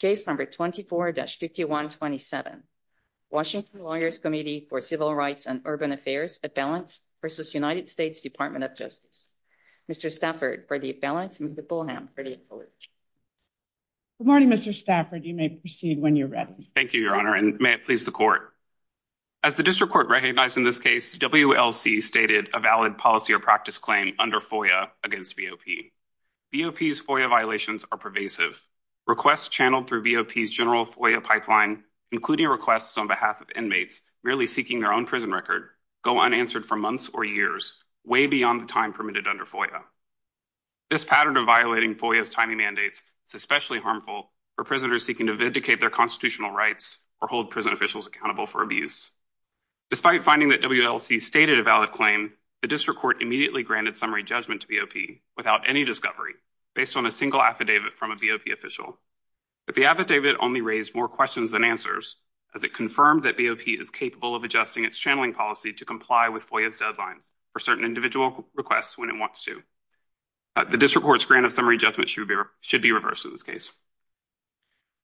Case number 24-5127, Washington Lawyers' Committee for Civil Rights and Urban Affairs, At-Balance v. United States Department of Justice. Mr. Stafford for the At-Balance and Ms. Bolham for the Acknowledgement. Good morning, Mr. Stafford. You may proceed when you're ready. Thank you, Your Honor, and may it please the Court. As the District Court recognized in this case, WLC stated a valid policy or practice claim under FOIA against BOP. BOP's FOIA violations are pervasive. Requests channeled through BOP's general FOIA pipeline, including requests on behalf of inmates merely seeking their own prison record, go unanswered for months or years, way beyond the time permitted under FOIA. This pattern of violating FOIA's timing mandates is especially harmful for prisoners seeking to vindicate their constitutional rights or hold prison officials accountable for abuse. Despite finding that WLC stated a valid claim, the District Court immediately granted summary judgment to BOP. without any discovery, based on a single affidavit from a BOP official. But the affidavit only raised more questions than answers, as it confirmed that BOP is capable of adjusting its channeling policy to comply with FOIA's deadlines for certain individual requests when it wants to. The District Court's grant of summary judgment should be reversed in this case.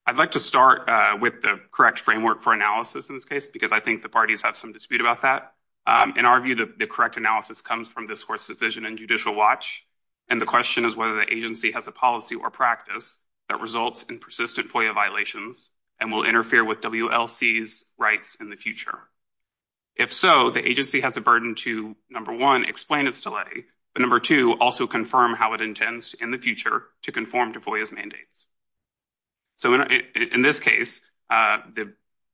I'd like to start with the correct framework for analysis in this case, because I think the parties have some dispute about that. In our view, the correct analysis comes from this Court's Judicial Watch, and the question is whether the agency has a policy or practice that results in persistent FOIA violations and will interfere with WLC's rights in the future. If so, the agency has a burden to, number one, explain its delay, but number two, also confirm how it intends in the future to conform to FOIA's mandates. So in this case, the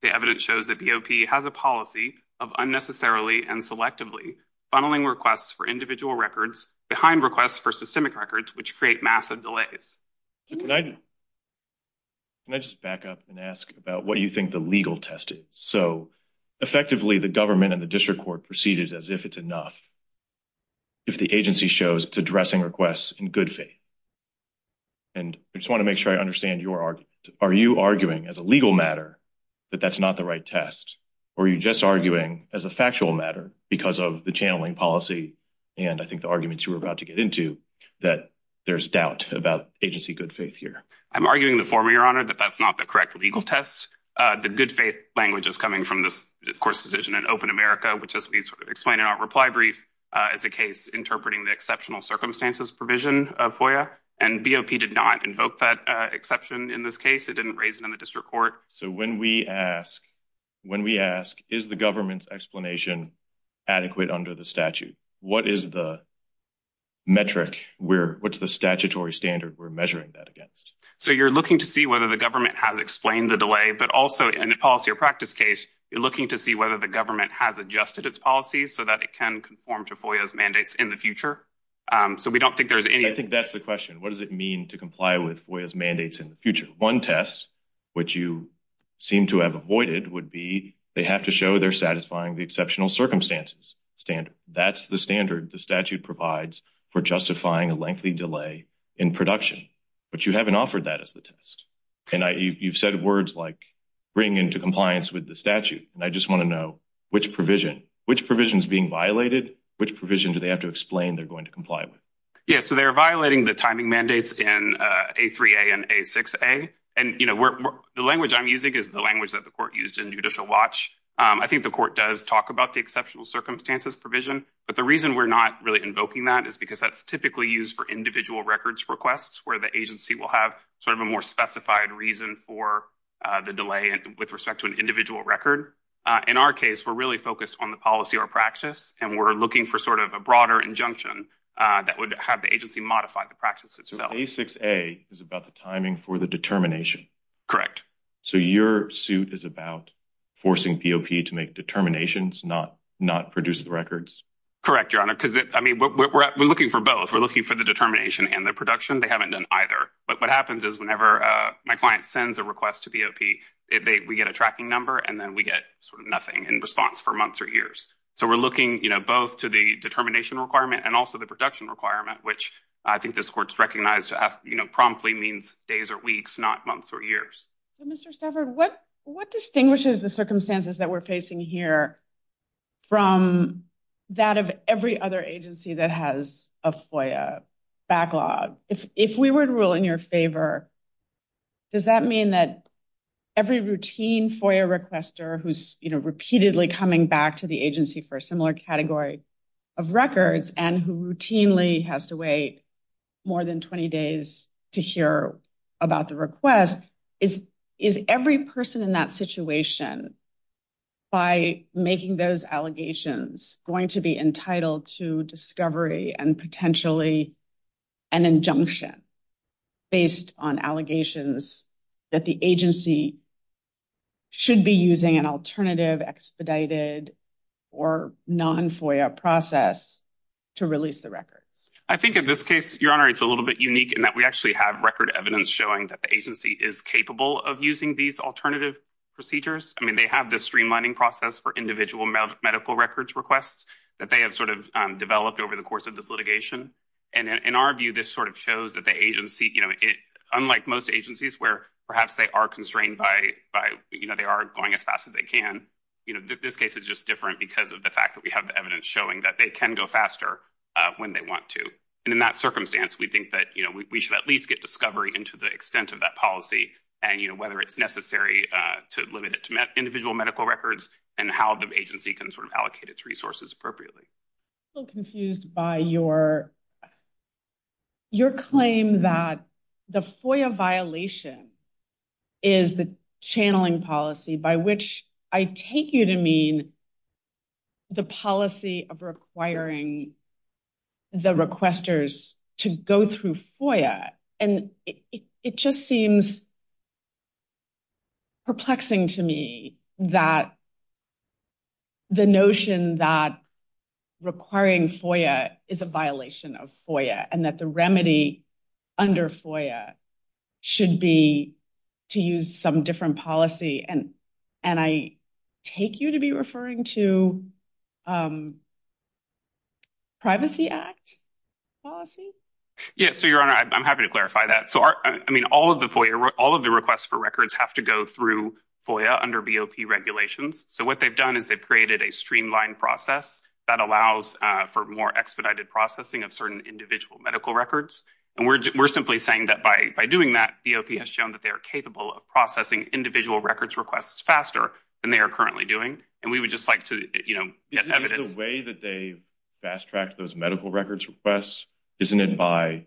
evidence shows that BOP has a policy of unnecessarily and selectively funneling requests for individual records behind requests for systemic records, which create massive delays. Can I just back up and ask about what you think the legal test is? So effectively, the government and the District Court proceeded as if it's enough if the agency shows it's addressing requests in good faith. And I just want to make sure I understand your argument. Are you arguing, as a legal matter, that that's not the right test? Or are you just arguing, as a factual matter, because of the channeling policy and, I think, the arguments you were about to get into, that there's doubt about agency good faith here? I'm arguing the former, Your Honor, that that's not the correct legal test. The good faith language is coming from this Court's decision in Open America, which, as we explained in our reply brief, is a case interpreting the exceptional circumstances provision of FOIA, and BOP did not invoke that exception in this case. It didn't raise it in the District Court. So when we ask, when we ask, is the government's explanation adequate under the statute? What is the metric? What's the statutory standard we're measuring that against? So you're looking to see whether the government has explained the delay, but also, in a policy or practice case, you're looking to see whether the government has adjusted its policies so that it can conform to FOIA's mandates in the future. So we don't think there's any... I think that's the question. What does it mean to comply with FOIA's mandates in the future? One test, which you seem to have avoided, would be they have to show they're satisfying the exceptional circumstances standard. That's the standard the statute provides for justifying a lengthy delay in production, but you haven't offered that as the test. And you've said words like bring into compliance with the statute, and I just want to know which provision, which provision is being violated, which provision do they have to explain they're going to comply with? Yeah, so they're violating the timing mandates in A3a and A6a. And, you know, the language I'm using is the language that the court used in Judicial Watch. I think the court does talk about the exceptional circumstances provision, but the reason we're not really invoking that is because that's typically used for individual records requests, where the agency will have sort of a more specified reason for the delay with respect to an individual record. In our case, we're really focused on the policy or practice, and we're looking for sort of a broader injunction that would have the agency modify the practice itself. A6a is about the timing for the determination. Correct. So your suit is about forcing POP to make determinations, not produce the records? Correct, Your Honor, because I mean we're looking for both. We're looking for the determination and the production. They haven't done either, but what happens is whenever my client sends a request to POP, we get a tracking number, and then we get sort of nothing in response for months or years. So we're looking, you know, both to the determination requirement and also the production requirement, which I think this court's recognized as, you know, promptly means days or weeks, not months or years. Mr. Stafford, what distinguishes the circumstances that we're facing here from that of every other agency that has a FOIA backlog? If we were to rule in your favor, does that mean that every routine FOIA requester who's, you know, repeatedly coming back to the agency for a similar category of records and who routinely has to wait more than 20 days to hear about the request, is every person in that situation, by making those allegations, going to be entitled to discovery and potentially an injunction based on allegations that the agency should be using an alternative expedited or non-FOIA process to release the records? I think in this case, Your Honor, it's a little bit unique in that we actually have record evidence showing that the agency is capable of using these alternative procedures. I mean, have this streamlining process for individual medical records requests that they have sort of developed over the course of this litigation. And in our view, this sort of shows that the agency, you know, unlike most agencies where perhaps they are constrained by, you know, they are going as fast as they can, you know, this case is just different because of the fact that we have the evidence showing that they can go faster when they want to. And in that circumstance, we think that, you know, we should at least get discovery into the extent of that policy and, you know, to limit it to individual medical records and how the agency can sort of allocate its resources appropriately. I'm still confused by your claim that the FOIA violation is the channeling policy by which I take you to mean the policy of requiring the requesters to go through FOIA. And it just seems perplexing to me that the notion that requiring FOIA is a violation of FOIA and that the remedy under FOIA should be to use some different policy. And I take you to be referring to a Privacy Act policy? Yes. So, Your Honor, I'm happy to clarify that. So, I mean, all of the FOIA, all of the requests for records have to go through FOIA under BOP regulations. So, what they've done is they've created a streamlined process that allows for more expedited processing of certain individual medical records. And we're simply saying that by doing that, BOP has shown that they are capable of processing individual records requests faster than they are currently doing. And we would just like to, you know, get evidence. Is the way that they fast-tracked those medical records requests, isn't it by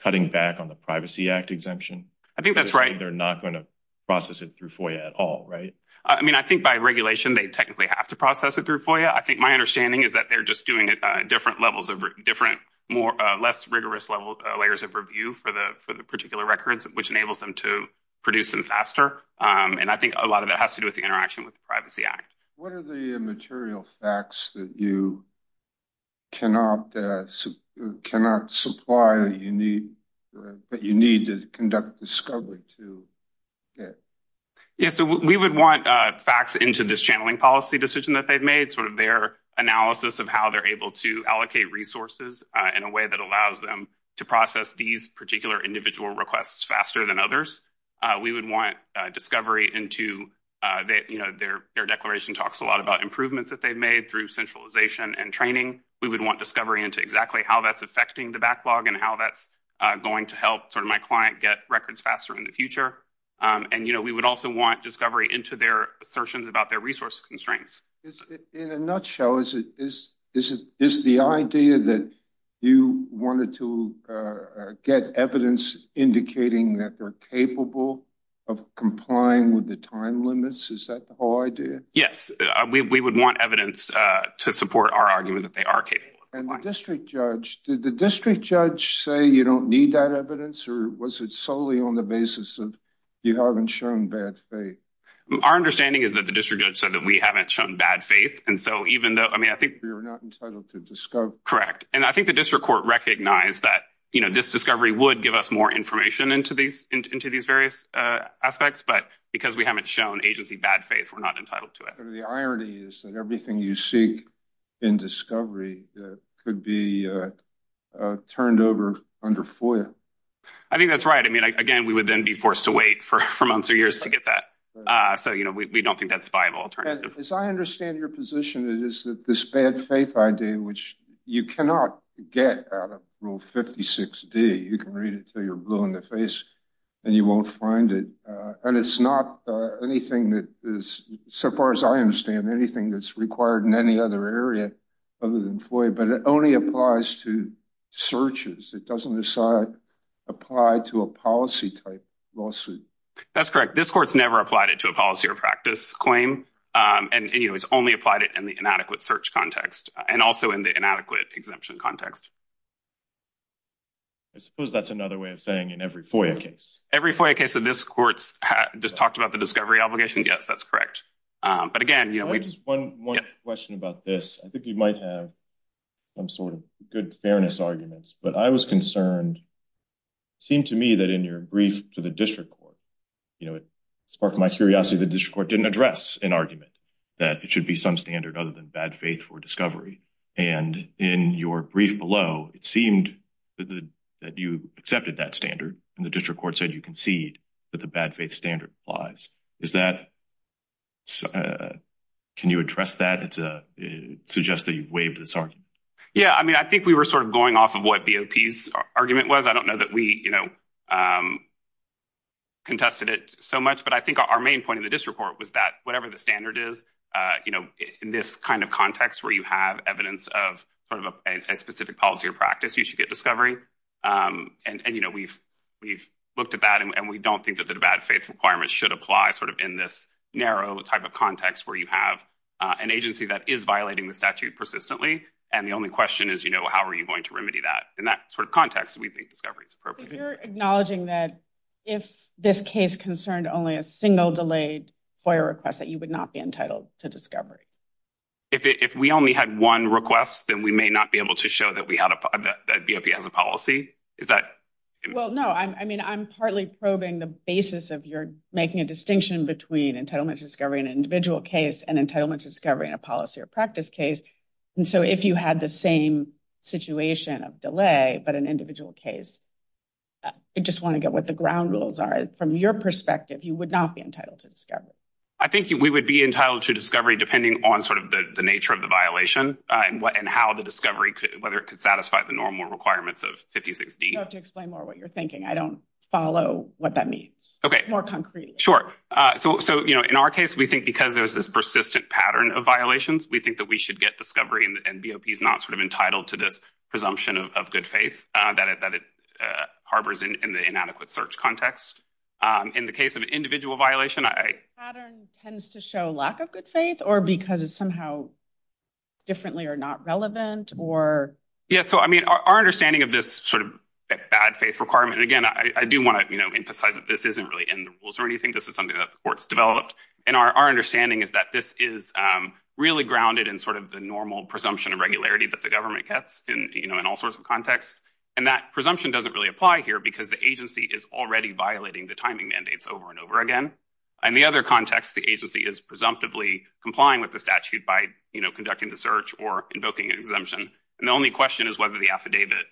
cutting back on the Privacy Act exemption? I think that's right. They're not going to process it through FOIA at all, right? I mean, I think by regulation, they technically have to process it through FOIA. I think my understanding is that they're just doing different levels of different, less rigorous layers of review for the particular records, which enables them to produce them faster. And I think a lot of it has to do with the What are the material facts that you cannot supply that you need to conduct discovery to? Yeah, so we would want facts into this channeling policy decision that they've made, sort of their analysis of how they're able to allocate resources in a way that allows them to process these particular individual requests faster than others. We would want discovery into that, you know, their declaration talks a lot about improvements that they've made through centralization and training. We would want discovery into exactly how that's affecting the backlog and how that's going to help sort of my client get records faster in the future. And, you know, we would also want discovery into their assertions about their resource constraints. In a nutshell, is the idea that you wanted to get evidence indicating that they're capable of complying with the time limits? Is that the whole idea? Yes, we would want evidence to support our argument that they are capable. And the district judge, did the district judge say you don't need that evidence, or was it solely on the basis of you haven't shown bad faith? Our understanding is that the district judge said that we haven't shown bad faith. And so, even though, I mean, I think we were not entitled to discover. Correct. And I think the district court recognized that, you know, this discovery would give us more information into these various aspects, but because we haven't shown agency bad faith, we're not entitled to it. The irony is that everything you seek in discovery could be turned over under FOIA. I think that's right. I mean, again, we would then be forced to wait for months or years to get that. So, you know, we don't think that's a viable alternative. As I understand your position, it is that this bad faith idea, which you cannot get out of Rule 56D, you can read it until you're blue in the face and you won't find it. And it's not anything that is, so far as I understand, anything that's required in any other area other than FOIA, but it only applies to searches. It doesn't apply to a policy type lawsuit. That's correct. This court's never applied it to a policy or practice claim. And, you know, it's only applied it in the inadequate search context and also in the inadequate exemption context. I suppose that's another way of saying in every FOIA case. Every FOIA case of this court's just talked about the discovery obligation. Yes, that's correct. But again, you know, we just one more question about this. I think you might have some sort of good fairness arguments, but I was concerned, seemed to me that in your brief to the district court, you know, it sparked my curiosity. The district court didn't address an argument that it should be some standard other than bad faith for discovery. And in your brief below, it seemed that you accepted that standard and the district court said you concede that the bad faith standard applies. Is that, can you address that? It suggests that you waived this argument. Yeah, I mean, I think we were sort of going off of what BOP's argument was. I don't know that we, you know, contested it so much, but I think our main point in the district court was that whatever the standard is, you know, in this kind of context where you have evidence of sort of a specific policy or practice, you should get discovery. And, you know, we've, we've looked at that and we don't think that the bad faith requirements should apply sort of in this narrow type of context where you have an agency that is violating the statute persistently. And the only question is, you know, how are you going to remedy that? In that sort of context, we think discovery is appropriate. You're acknowledging that if this case concerned only a single delayed FOIA request that you would not be entitled to discovery. If we only had one request, then we may not be able to show that BOP has a policy. Is that? Well, no, I mean, I'm partly probing the basis of your making a distinction between entitlement to discovery in an individual case and entitlement to discovery in a policy or practice case. And so if you had the same situation of delay, but an individual case, I just want to get what the ground rules are. From your perspective, you would not be entitled to discovery. I think we would be entitled to discovery depending on sort of the nature of the violation and what and how the discovery could, whether it could satisfy the normal requirements of 56D. You'll have to explain more what you're thinking. I don't follow what that means. Okay. More concretely. Sure. So, so, you know, in our case, we think because there's this persistent pattern of violations, we think that we should get discovery and BOP is not sort of harbors in the inadequate search context. In the case of individual violation, I. Pattern tends to show lack of good faith or because it's somehow differently or not relevant or. Yeah. So, I mean, our understanding of this sort of bad faith requirement, again, I do want to emphasize that this isn't really in the rules or anything. This is something that the court's developed. And our understanding is that this is really grounded in sort of the normal presumption of regularity that the government gets in all sorts of contexts. And that presumption doesn't really apply here because the agency is already violating the timing mandates over and over again. And the other context, the agency is presumptively complying with the statute by conducting the search or invoking an exemption. And the only question is whether the affidavit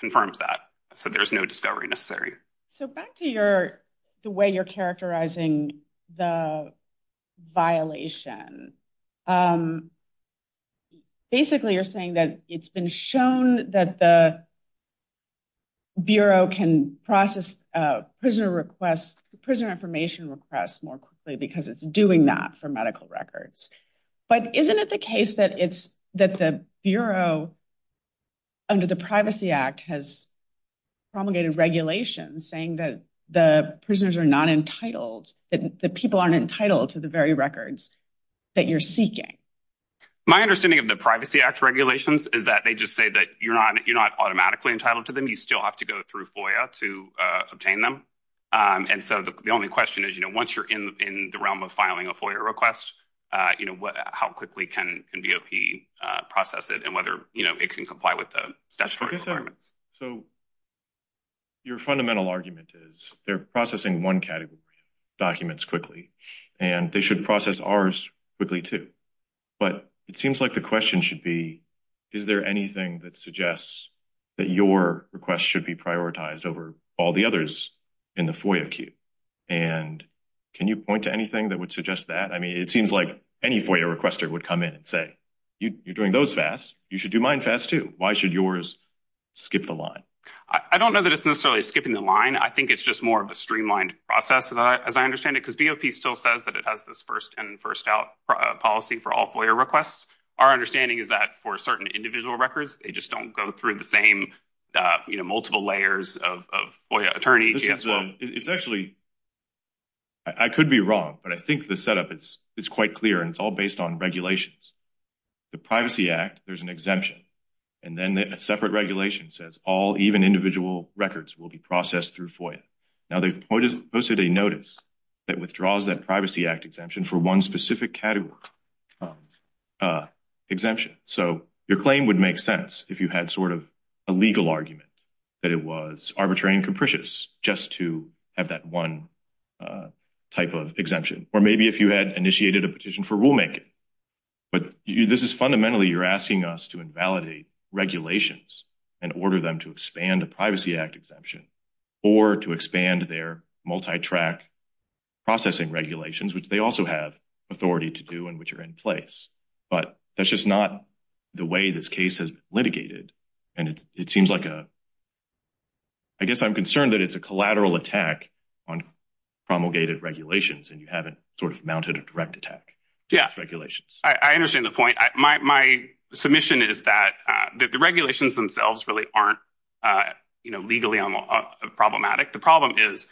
confirms that. So there's no discovery necessary. So back to your, the way you're characterizing the violation. Basically, you're saying that it's been shown that the Bureau can process prisoner requests, prisoner information requests more quickly because it's doing that for medical records. But isn't it the case that it's that the Bureau under the Privacy Act has promulgated regulations saying that the prisoners are not entitled, that the people aren't that you're seeking? My understanding of the Privacy Act regulations is that they just say that you're not automatically entitled to them. You still have to go through FOIA to obtain them. And so the only question is, once you're in the realm of filing a FOIA request, how quickly can BOP process it and whether it can comply with the statutory requirements. So your fundamental argument is they're processing one category documents quickly and they should process ours quickly too. But it seems like the question should be, is there anything that suggests that your request should be prioritized over all the others in the FOIA queue? And can you point to anything that would suggest that? I mean, it seems like any FOIA requester would come in and say, you're doing those fast. You should do mine fast too. Why should yours skip the line? I don't know that it's necessarily skipping the line. I think it's more of a streamlined process as I understand it, because BOP still says that it has this first in and first out policy for all FOIA requests. Our understanding is that for certain individual records, they just don't go through the same multiple layers of FOIA attorney. It's actually, I could be wrong, but I think the setup is quite clear and it's all based on regulations. The Privacy Act, there's an exemption and then a separate regulation says all even individual records will be processed through FOIA. Now they've posted a notice that withdraws that Privacy Act exemption for one specific category exemption. So your claim would make sense if you had sort of a legal argument that it was arbitrary and capricious just to have that one type of exemption. Or maybe if you had initiated a petition for rulemaking, but this is fundamentally, you're asking us to invalidate regulations and order them to expand a Privacy Act exemption or to expand their multi-track processing regulations, which they also have authority to do and which are in place. But that's just not the way this case has been litigated. And it seems like a, I guess I'm concerned that it's a collateral attack on promulgated regulations and you haven't sort of mounted a direct attack. Yeah, I understand the point. My submission is that the regulations themselves really aren't legally problematic. The problem is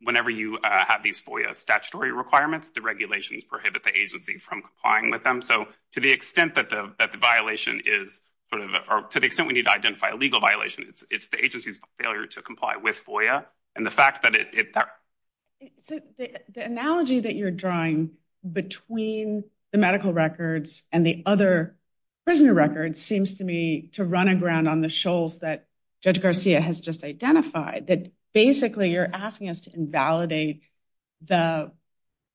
whenever you have these FOIA statutory requirements, the regulations prohibit the agency from complying with them. So to the extent that the violation is sort of, or to the extent we need to identify a legal violation, it's the agency's failure to comply with FOIA. The analogy that you're drawing between the medical records and the other prisoner records seems to me to run aground on the shoals that Judge Garcia has just identified, that basically you're asking us to invalidate the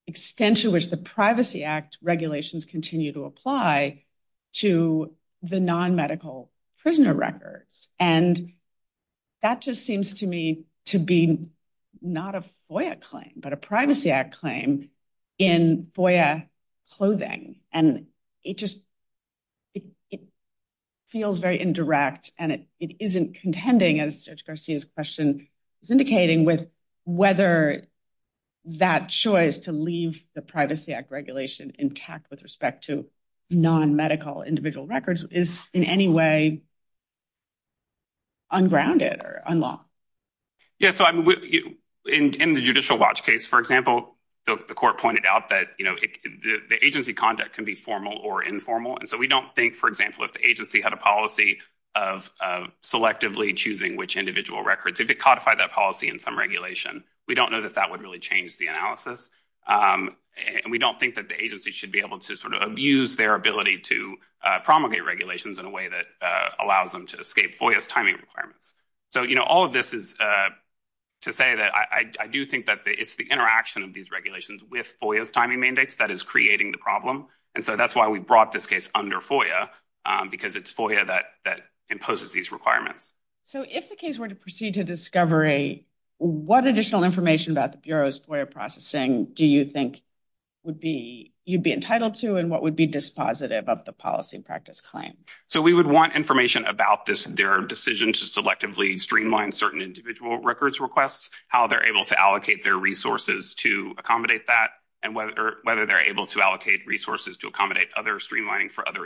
extent to which the Privacy Act regulations continue to apply to the non-medical prisoner records. And that just seems to me to be not a FOIA claim, but a Privacy Act claim in FOIA clothing. And it just, it feels very indirect and it isn't contending as Judge Garcia's question is indicating with whether that choice to leave the Privacy Act regulation intact with respect to non-medical individual records is in any way ungrounded or unlawful. Yeah, so in the judicial watch case, for example, the court pointed out that the agency conduct can be formal or informal. And so we don't think, for example, if the agency had a policy of selectively choosing which individual records, if it codified that policy in some regulation, we don't know that that would really change the analysis. And we don't think that the agency should be able to sort of abuse their ability to promulgate regulations in a way that allows them to escape FOIA's timing requirements. So, you know, all of this is to say that I do think that it's the interaction of these regulations with FOIA's timing mandates that is creating the problem. And so that's why we brought this case under FOIA, because it's FOIA that imposes these requirements. So if the case were to proceed to discovery, what additional information about the Bureau's FOIA processing do you think would be, you'd be entitled to and what would be dispositive of the policy practice claim? So we would want information about this, their decision to selectively streamline certain individual records requests, how they're able to allocate their resources to accommodate that, and whether they're able to allocate resources to accommodate other streamlining for other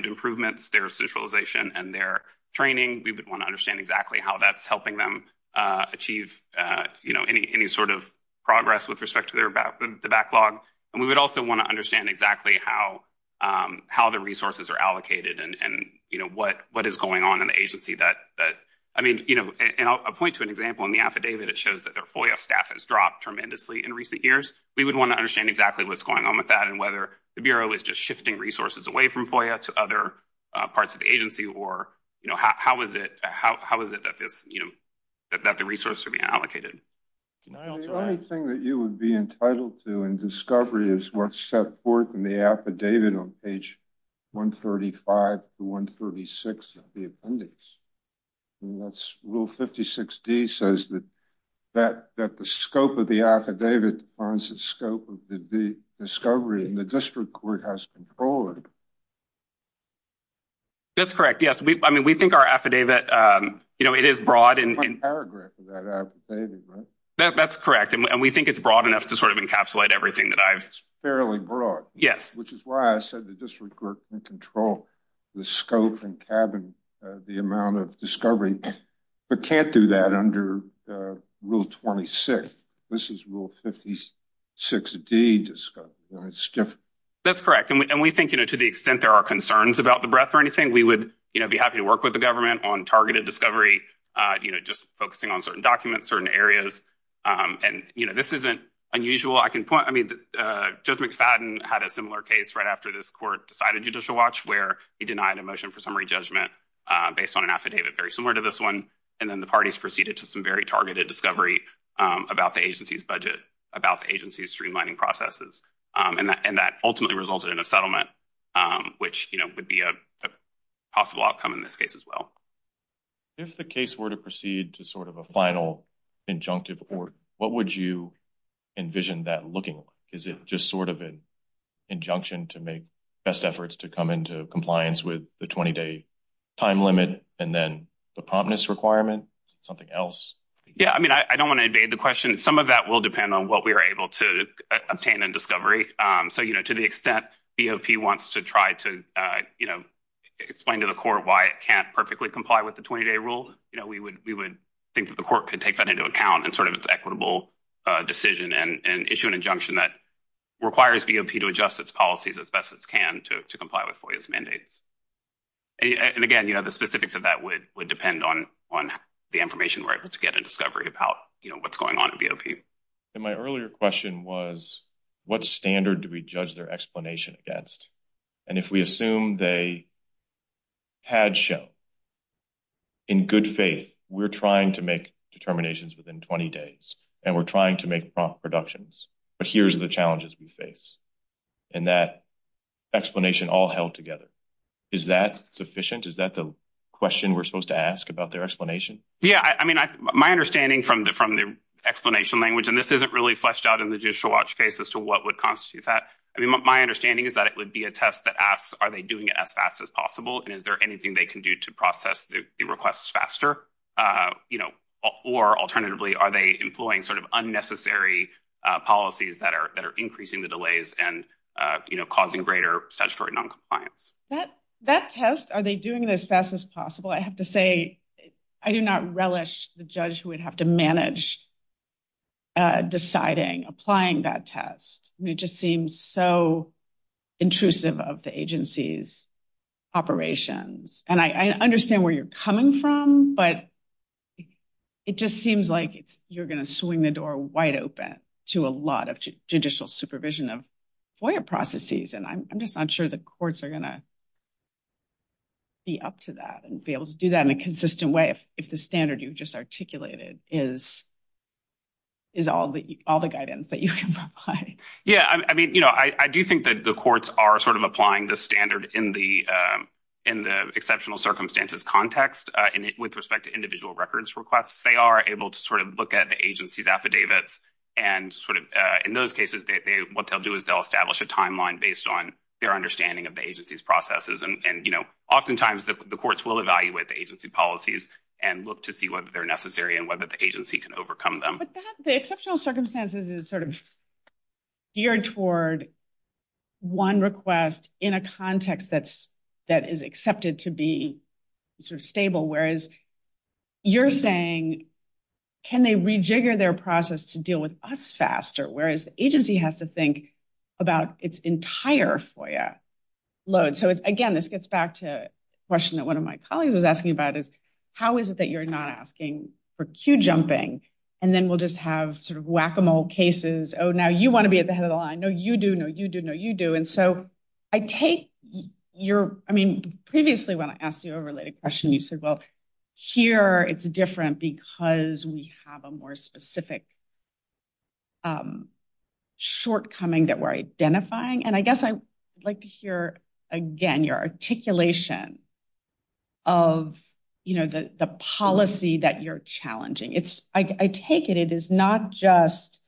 improvements, their centralization and their training. We would want to understand exactly how that's helping them achieve, you know, any sort of progress with respect to their backlog. And we would also want to understand exactly how the resources are allocated and, you know, what is going on in the agency that, I mean, you know, and I'll point to an example in the affidavit, it shows that their FOIA staff has dropped tremendously in recent years. We would want to understand exactly what's going on with that and whether the Bureau is just shifting resources away from FOIA to other parts of the agency or, you know, how is it, how is it that this, you know, that the resources are being allocated. The only thing that you would be entitled to in discovery is what's set forth in the affidavit on page 135 to 136 of the appendix. That's rule 56d says that the scope of the affidavit defines the scope of the discovery and the district court has control of it. That's correct, yes. I mean, we think our affidavit, you know, it is broad. That's correct, and we think it's broad enough to sort of encapsulate everything that I've. It's fairly broad. Yes. Which is why I said the district court can control the scope and cabin, the amount of discovery, but can't do that under rule 26. This is rule 56d, it's different. That's correct, and we think, you know, to the extent there are concerns about the breadth or anything, we would, you know, be happy to work with the government on targeted discovery, you know, just focusing on certain documents, certain areas, and, you know, this isn't unusual. I can point, I mean, Judge McFadden had a similar case right after this court decided Judicial Watch where he denied a motion for summary judgment based on an affidavit very similar to this one, and then the parties proceeded to some very targeted discovery about the agency's budget, about the agency's streamlining processes, and that ultimately resulted in a settlement, which, you know, would be a possible outcome in this case as well. If the case were to proceed to sort of a final injunctive court, what would you envision that looking like? Is it just sort of an injunction to make best efforts to come into compliance with the 20-day time limit and then the promptness requirement, something else? Yeah, I mean, I don't want to invade the question. Some of that will depend on what we are able to obtain in discovery. So, you know, to the extent BOP wants to try to, you know, explain to the court why it can't perfectly comply with the 20-day rule, you know, we would think that the court could take that into account in sort of its equitable decision and issue an injunction that requires BOP to adjust its policies as best it can to comply with FOIA's mandates. And again, you know, the specifics of that would depend on the information where it would get a discovery about, you know, what's going on at BOP. And my earlier question was, what standard do we judge their explanation against? And if we assume they had shown, in good faith, we're trying to make determinations within 20 days, and we're trying to make prompt reductions, but here's the challenges we face. And that explanation all held together. Is that sufficient? Is that the question we're supposed to ask about their explanation? Yeah, I mean, my understanding from the explanation language, and this isn't really fleshed out in the judicial watch case as to what would constitute that. I mean, my understanding is that it would be a test that asks, are they doing it as fast as possible? And is there anything they can do to process the requests faster? You know, or alternatively, are they employing sort of unnecessary policies that are increasing the delays and, you know, causing greater statutory noncompliance? That test, are they doing it as fast as possible? I have to say, I do not relish the judge who would have to manage deciding, applying that test. It just seems so intrusive of the agency's operations. And I understand where you're coming from, but it just seems like you're going to swing the door wide open to a lot of judicial supervision of FOIA processes. And I'm just not sure the courts are going to be up to that and be able to do that in a consistent way if the standard you've just articulated is all the guidance that you can provide. Yeah, I mean, you know, I do think that the courts are sort of applying the standard in the exceptional circumstances context with respect to individual records requests. They are able to sort of look at the agency's affidavits and sort of, in those cases, what they'll do is they'll establish a timeline based on their understanding of the agency's processes. And, you know, oftentimes the courts will evaluate the agency policies and look to see whether they're necessary and whether the agency can overcome them. But the exceptional circumstances is sort of geared toward one request in a context that is accepted to be sort of stable, whereas you're saying, can they rejigger their process to deal with us faster, whereas the agency has to think about its entire FOIA load. So it's, again, this gets back to a question that one of my colleagues was asking about is how is it that you're not asking for queue jumping and then we'll just have sort of whack-a-mole cases. Oh, now you want to be at the head of the line. No, you do. No, you do. No, you do. And so I take your, I mean, previously when I asked you a related question, you said, well, here it's different because we have a more specific shortcoming that we're identifying. And I guess I'd like to hear again your articulation of, you know, the policy that you're challenging. It's, I take it, it is not just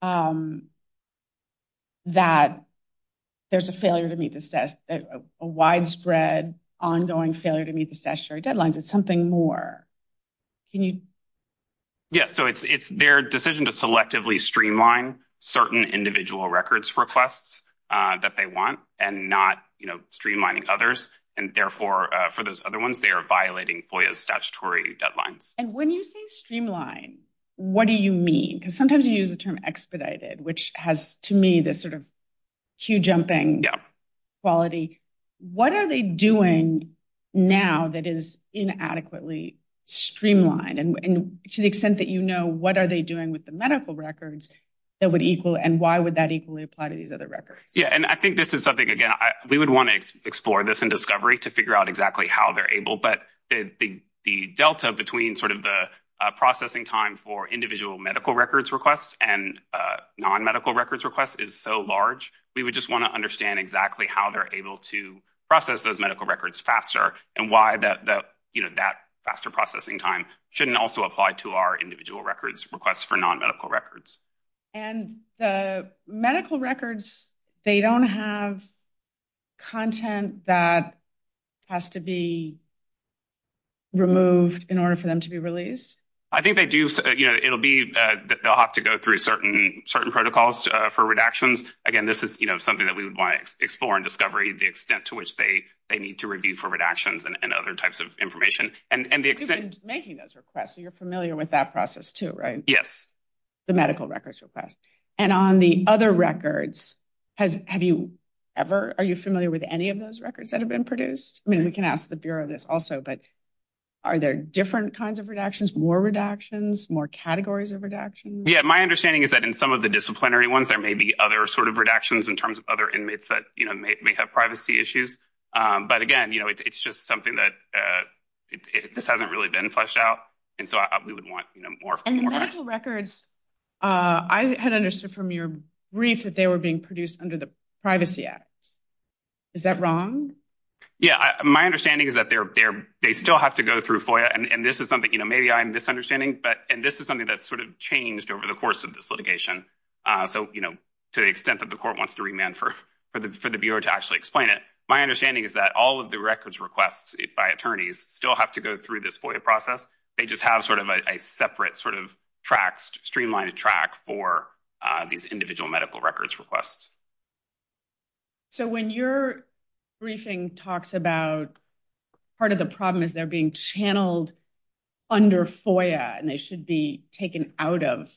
that there's a failure to meet the, a widespread ongoing failure to meet the statutory deadlines. It's something more. Can you? Yeah. So it's, it's their decision to selectively streamline certain individual records requests that they want and not, you know, streamlining others. And therefore, for those other ones, they are violating FOIA's statutory deadlines. And when you say streamline, what do you mean? Because sometimes you use the term expedited, which has to me, this sort of cue jumping quality. What are they doing now that is inadequately streamlined? And to the extent that you know, what are they doing with the medical records that would equal, and why would that equally apply to these other records? Yeah. And I think this is something, again, we would want to explore this in discovery to figure out exactly how they're able, but the, the, the Delta between sort of the processing time for individual medical records requests and non-medical records requests is so large. We would just want to understand exactly how they're able to process those medical records faster and why the, the, you know, that faster processing time shouldn't also apply to our individual records requests for non-medical records. And the medical records, they don't have content that has to be removed in order for them to be released. I think they do. You know, it'll be, they'll have to go through certain, certain protocols for redactions. Again, this is, you know, something that we would want to explore and discovery the extent to which they, they need to review for redactions and other types of information and, and the extent. You've been making those requests, so you're familiar with that process too, right? Yes. The medical records request. And on the other records, has, have you ever, are you familiar with any of those records that have been produced? I mean, we can ask the Bureau this also, but are there different kinds of redactions, more redactions, more categories of redactions? Yeah. My understanding is that in some of the disciplinary ones, there may be other sort of redactions in terms of other inmates that, you know, may have privacy issues. But again, you know, it's just something that this hasn't really been fleshed out. And so we would want, you know, more. And medical records, I had understood from your brief that they were being produced under the Privacy Act. Is that wrong? Yeah. My understanding is that they're, they're, they still have to go through FOIA and this is something, you know, maybe I'm misunderstanding, but, and this is something that's sort of changed over the course of this litigation. So, you know, to the extent that the court wants to remand for, for the, for the Bureau to actually explain it. My understanding is that all of the records requests by attorneys still have to go through this FOIA process. They just have sort of a separate sort of tracks, streamlined track for these individual medical records requests. So when your briefing talks about part of the problem is they're being channeled under FOIA and they should be taken out of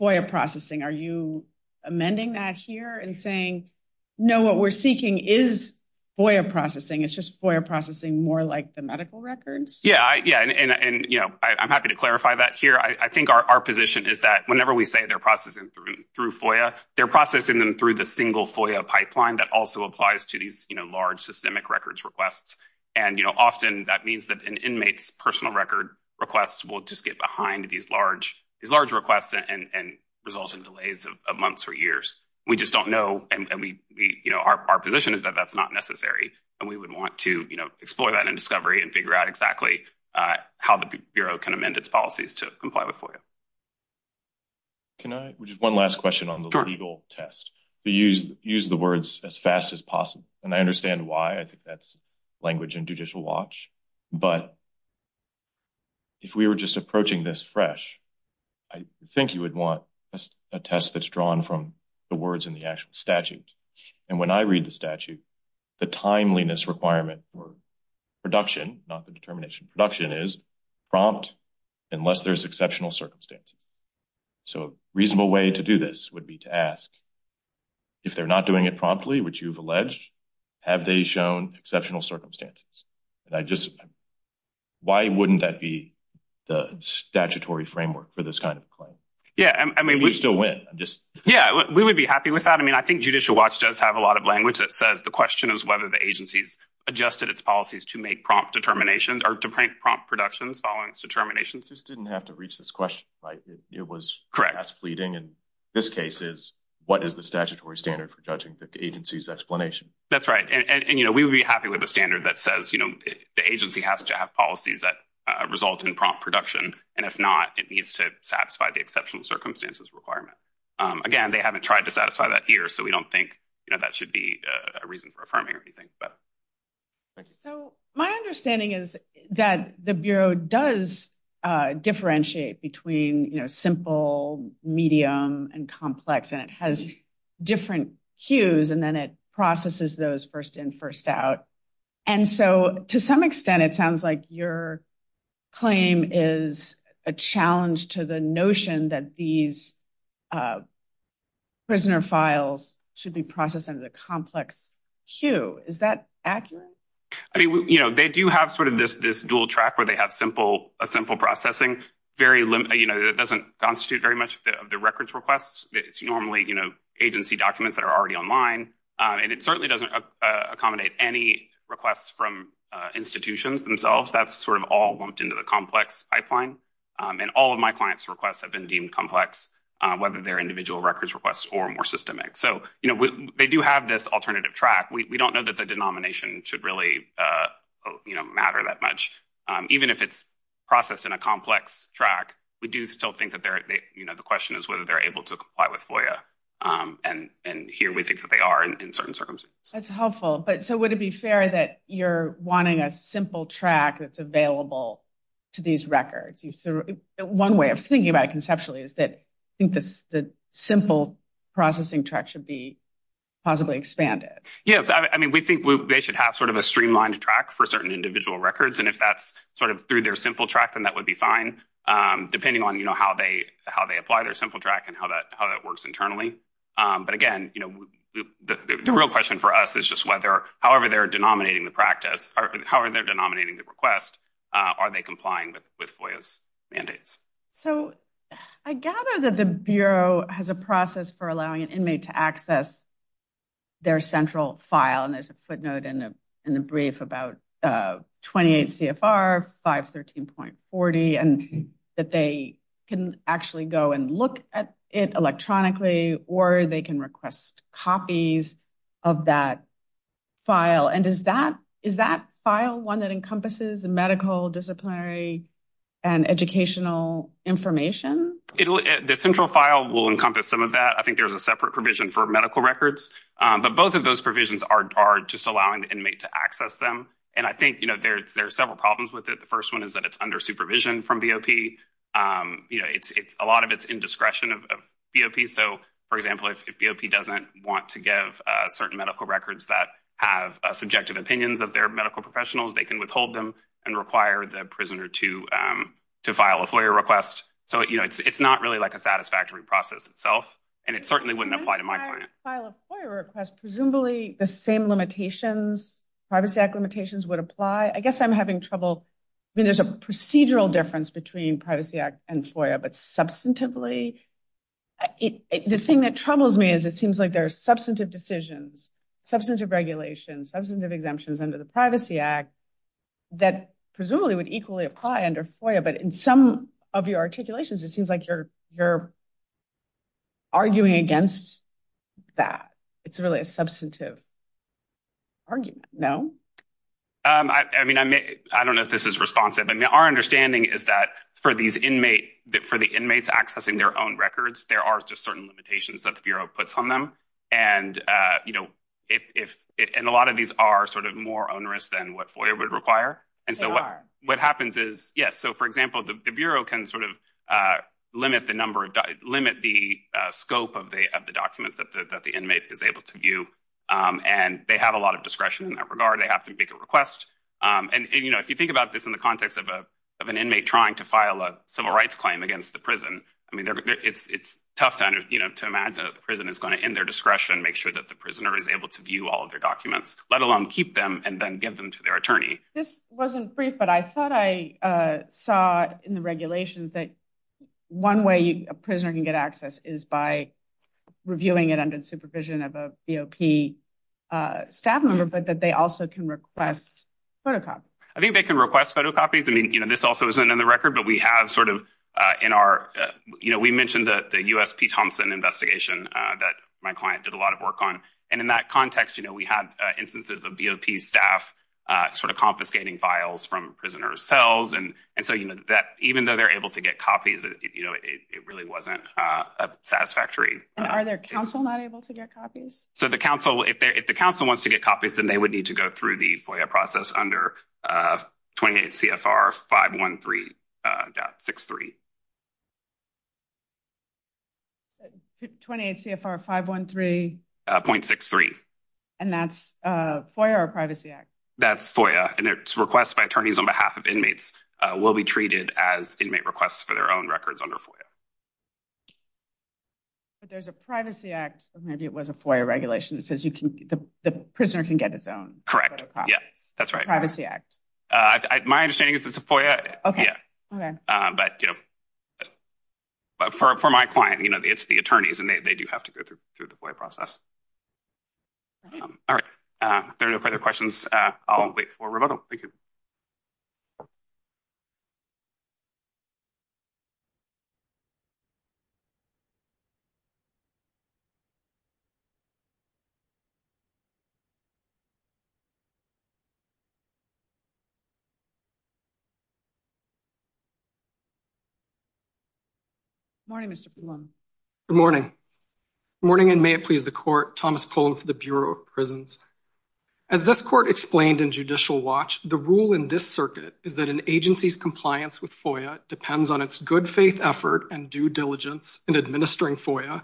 FOIA processing. Are you amending that here and saying, no, what we're seeking is FOIA processing. It's just FOIA processing more like the medical records. Yeah. Yeah. And, and, and, you know, I, I'm happy to clarify that here. I think our, our position is that whenever we say they're processing through, through FOIA, they're processing them through the single FOIA pipeline that also applies to these, you know, large systemic records requests. And, you know, often that means that an inmate's personal record requests will just get behind these large, these large requests and, and resulting delays of months or years. We just don't know. And we, we, you know, our, our position is that that's not necessary. And we would want to, you know, explore that in discovery and figure out exactly how the Bureau can amend its policies to comply with FOIA. Can I, which is one last question on the legal test, to use, use the words as fast as possible. And I understand why I think that's language and judicial watch, but if we were just approaching this fresh, I think you would want a test that's drawn from the words in the actual statute. And when I read the statute, the timeliness requirement for production, not the determination production is prompt unless there's exceptional circumstances. So reasonable way to do this would be to ask if they're not doing it promptly, which you've alleged, have they shown exceptional circumstances? And I just, why wouldn't that be the statutory framework for this kind of claim? Yeah. I mean, we still win. I'm just, yeah, we would be happy with that. I mean, I think judicial watch does have a lot of language that says the question is whether the agency's adjusted its policies to make prompt determinations or to prank prompt productions following its determinations. Just didn't have to reach this question, right? It was correct. That's fleeting. And this case is what is the statutory standard for judging the agency's explanation? That's right. And, you know, we would be happy with a standard that says, you know, the agency has to have policies that result in prompt production. And if not, it needs to satisfy the exceptional circumstances requirement. Again, they haven't tried to satisfy that here. We don't think that should be a reason for affirming or anything. So my understanding is that the Bureau does differentiate between, you know, simple, medium and complex, and it has different hues and then it processes those first in first out. And so to some extent, it sounds like your claim is a challenge to the notion that these prisoner files should be processed under the complex hue. Is that accurate? I mean, you know, they do have sort of this dual track where they have a simple processing, very limited, you know, that doesn't constitute very much of the records requests. It's normally, you know, agency documents that are already online. And it certainly doesn't accommodate any requests from institutions themselves. That's sort of all lumped into the complex pipeline. And all of my clients' requests have been deemed complex, whether they're individual records requests or more systemic. So, you know, they do have this alternative track. We don't know that the denomination should really, you know, matter that much. Even if it's processed in a complex track, we do still think that they're, you know, the question is whether they're able to comply with FOIA. And here we think that they are in certain circumstances. That's helpful. But so would it be fair that you're wanting a simple track that's available to these records? One way of thinking about it conceptually is that I think the simple processing track should be possibly expanded. Yes. I mean, we think they should have sort of a streamlined track for certain individual records. And if that's sort of through their simple track, then that would be fine, depending on, you know, how they apply their simple track and how that works internally. But again, you know, the real question for us is just whether however they're denominating the practice or however they're denominating the request, are they complying with FOIA's mandates? So I gather that the Bureau has a process for allowing an inmate to access their central file. And there's a footnote in a brief about 28 CFR 513.40 and that they can actually go and look at it electronically or they can request copies of that file. And is that file one that encompasses medical disciplinary and educational information? The central file will encompass some of that. I think there's a separate provision for medical records. But both of those provisions are just allowing the inmate to access them. And I think, you know, there's several problems with it. The first one is that it's under supervision from BOP. You know, a lot of it's in discretion of BOP. So for example, if BOP doesn't want to give certain medical records that have subjective opinions of their medical professionals, they can withhold them and require the prisoner to file a FOIA request. So, you know, it's not really like a satisfactory process itself. And it certainly wouldn't apply to my client. When I file a FOIA request, presumably the same limitations, Privacy Act would apply. I guess I'm having trouble. I mean, there's a procedural difference between Privacy Act and FOIA. But substantively, the thing that troubles me is it seems like there's substantive decisions, substantive regulations, substantive exemptions under the Privacy Act that presumably would equally apply under FOIA. But in some of your articulations, it seems like you're arguing against that. It's really a substantive argument. No? I mean, I don't know if this is responsive. I mean, our understanding is that for the inmates accessing their own records, there are just certain limitations that the Bureau puts on them. And, you know, a lot of these are sort of more onerous than what FOIA would require. And so what happens is, yes, so for example, the Bureau can sort of limit the number of, of the documents that the inmate is able to view. And they have a lot of discretion in that regard. They have to make a request. And, you know, if you think about this in the context of an inmate trying to file a civil rights claim against the prison, I mean, it's tough to imagine that the prison is going to, in their discretion, make sure that the prisoner is able to view all of their documents, let alone keep them and then give them to their attorney. This wasn't brief, but I thought I saw in the regulations that one way a prisoner can get access is by reviewing it under the supervision of a BOP staff member, but that they also can request photocopies. I think they can request photocopies. I mean, you know, this also isn't in the record, but we have sort of in our, you know, we mentioned that the USP Thompson investigation that my client did a lot of work on. And in that context, you know, we had instances of BOP staff sort of confiscating files from prisoners' cells. And so, you know, that even though they're able to get copies, you know, it really wasn't satisfactory. And are their counsel not able to get copies? So the counsel, if the counsel wants to get copies, then they would need to go through the FOIA process under 28 CFR 513.63. 28 CFR 513.63. And that's FOIA or Privacy Act? That's FOIA, and it's requests by attorneys on behalf of inmates will be treated as inmate requests for their own records under FOIA. But there's a Privacy Act, or maybe it was a FOIA regulation that says the prisoner can get his own photocopies. Correct. Yeah, that's right. Privacy Act. My understanding is it's a FOIA. But, you know, for my client, you know, it's the attorneys, and they do have to go through the FOIA process. All right. If there are no further questions, I'll wait for a rebuttal. Thank you. Good morning, Mr. Pullum. Good morning. Good morning, and may it please the Court, Thomas Pullum for the Bureau of Prisons. As this Court explained in Judicial Watch, the rule in this circuit is that an agency's compliance with FOIA depends on its good faith effort and due diligence in administering FOIA,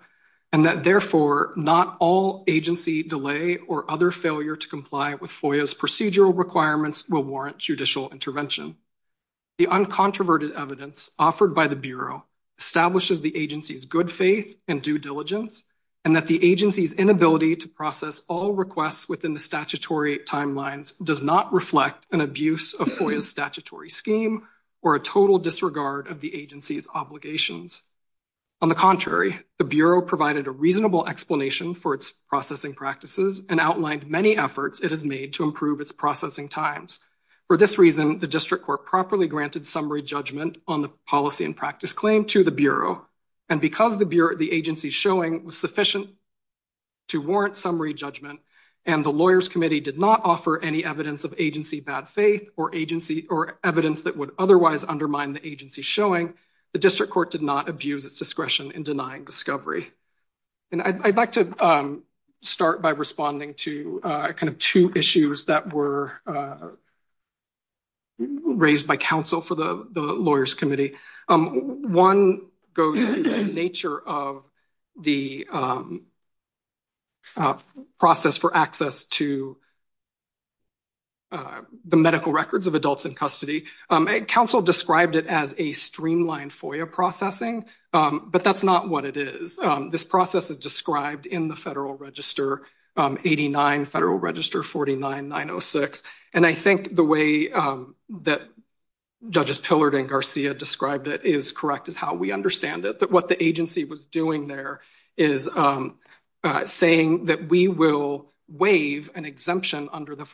and that, therefore, not all agency delay or other failure to comply with FOIA's procedural requirements will warrant judicial intervention. The uncontroverted evidence offered by the Bureau establishes the agency's good faith and due diligence, and that the agency's inability to process all requests within the statutory timelines does not reflect an abuse of FOIA's scheme or a total disregard of the agency's obligations. On the contrary, the Bureau provided a reasonable explanation for its processing practices and outlined many efforts it has made to improve its processing times. For this reason, the District Court properly granted summary judgment on the policy and practice claim to the Bureau, and because the agency's showing was sufficient to warrant summary judgment, and the Lawyers' Committee did not offer any evidence of agency bad faith or evidence that would otherwise undermine the agency's showing, the District Court did not abuse its discretion in denying discovery. And I'd like to start by responding to kind of two issues that were raised by counsel for the Lawyers' Committee. One goes to the nature of the process for access to the medical records of adults in custody. Counsel described it as a streamlined FOIA processing, but that's not what it is. This process is described in the Federal Register 89, Federal Register 49-906, and I think the way that Judges Pillard and Garcia described it is correct, is how we understand it, that what the agency was doing there is saying that we will waive an exemption under the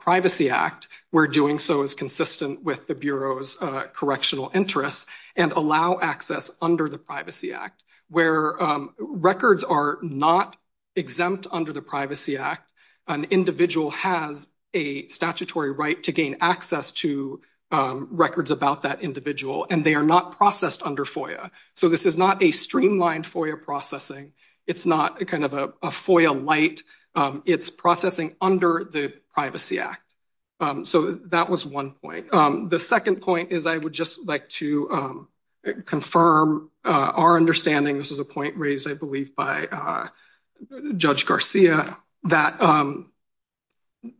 Privacy Act, we're doing so as consistent with the Bureau's correctional interests, and allow access under the Privacy Act. Where records are not exempt under the Privacy Act, an individual has a statutory right to gain access to records about that individual, and they are not processed under FOIA. So this is not a streamlined FOIA processing, it's not a kind of a FOIA light, it's processing under the Privacy Act. So that was one point. The second point is I would just like to confirm our understanding, this is a point raised I believe by Judge Garcia, that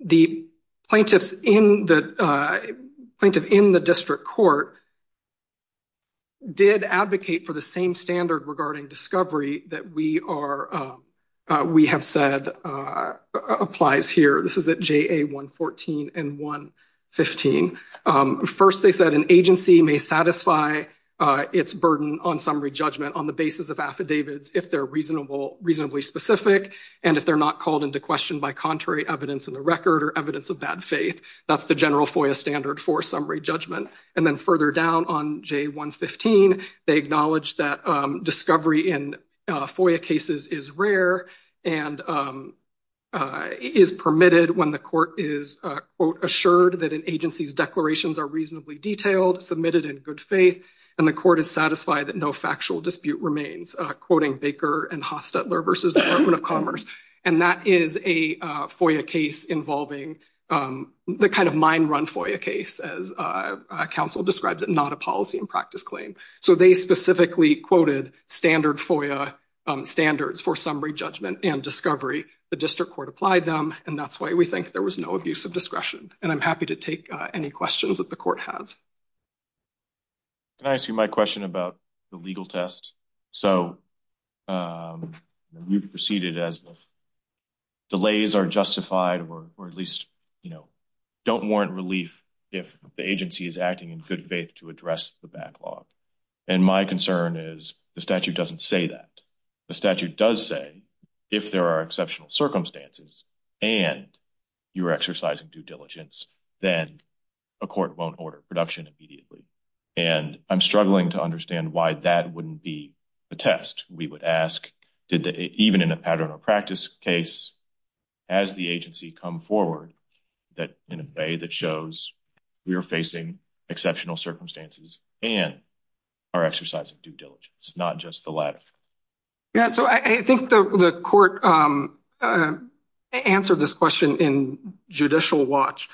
the plaintiffs in the District Court did advocate for the same standard regarding discovery that we are, we have said applies here. This is at JA 114 and 115. First they said an agency may satisfy its burden on summary judgment on the basis of affidavits if they're reasonable, reasonably specific, and if they're not called into question by contrary evidence in the record or evidence of bad faith. That's the general FOIA standard for summary judgment. And then further down on JA 115, they acknowledged that discovery in FOIA cases is rare and is permitted when the court is, quote, assured that an agency's declarations are reasonably detailed, submitted in good faith, and the court is satisfied that no factual dispute remains, quoting Baker and Hostetler versus Department of Commerce. And that is a FOIA case involving the kind of mind-run FOIA case, as counsel describes it, not a policy and practice claim. So they specifically quoted standard FOIA standards for summary judgment and discovery. The District Court applied them, and that's why we think there was no abuse of discretion. And I'm happy to take any questions that the court has. Can I ask you my question about the legal test? So we've proceeded as if delays are justified, or at least, you know, don't warrant relief if the agency is acting in good faith to address the backlog. And my concern is the statute doesn't say that. The statute does say if there are exceptional circumstances and you're exercising due diligence, then a court won't order production immediately. And I'm struggling to understand why that wouldn't be a test. We would ask, even in a pattern or practice case, as the agency come forward, that in a way that shows we are facing exceptional circumstances and are exercising due diligence, not just the latter. Yeah, so I think the court answered this question in judicial watch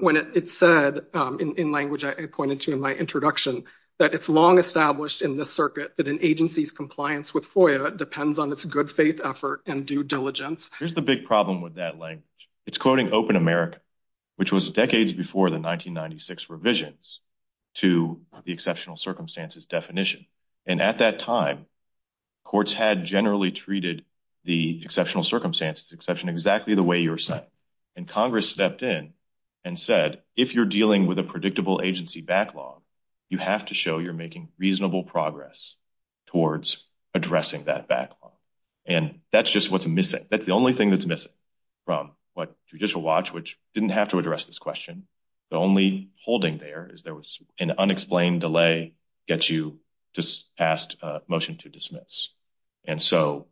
when it said, in language I pointed to in my introduction, that it's long established in this circuit that an agency's compliance with FOIA depends on its good faith effort and due diligence. Here's the big problem with that language. It's quoting Open America, which was decades before the 1996 revisions to the exceptional circumstances definition. And at that time, courts had generally treated the exceptional circumstances exception exactly the way you're Congress stepped in and said, if you're dealing with a predictable agency backlog, you have to show you're making reasonable progress towards addressing that backlog. And that's just what's missing. That's the only thing that's missing from what judicial watch, which didn't have to address this question. The only holding there is there was an unexplained delay gets you just asked motion to dismiss. And so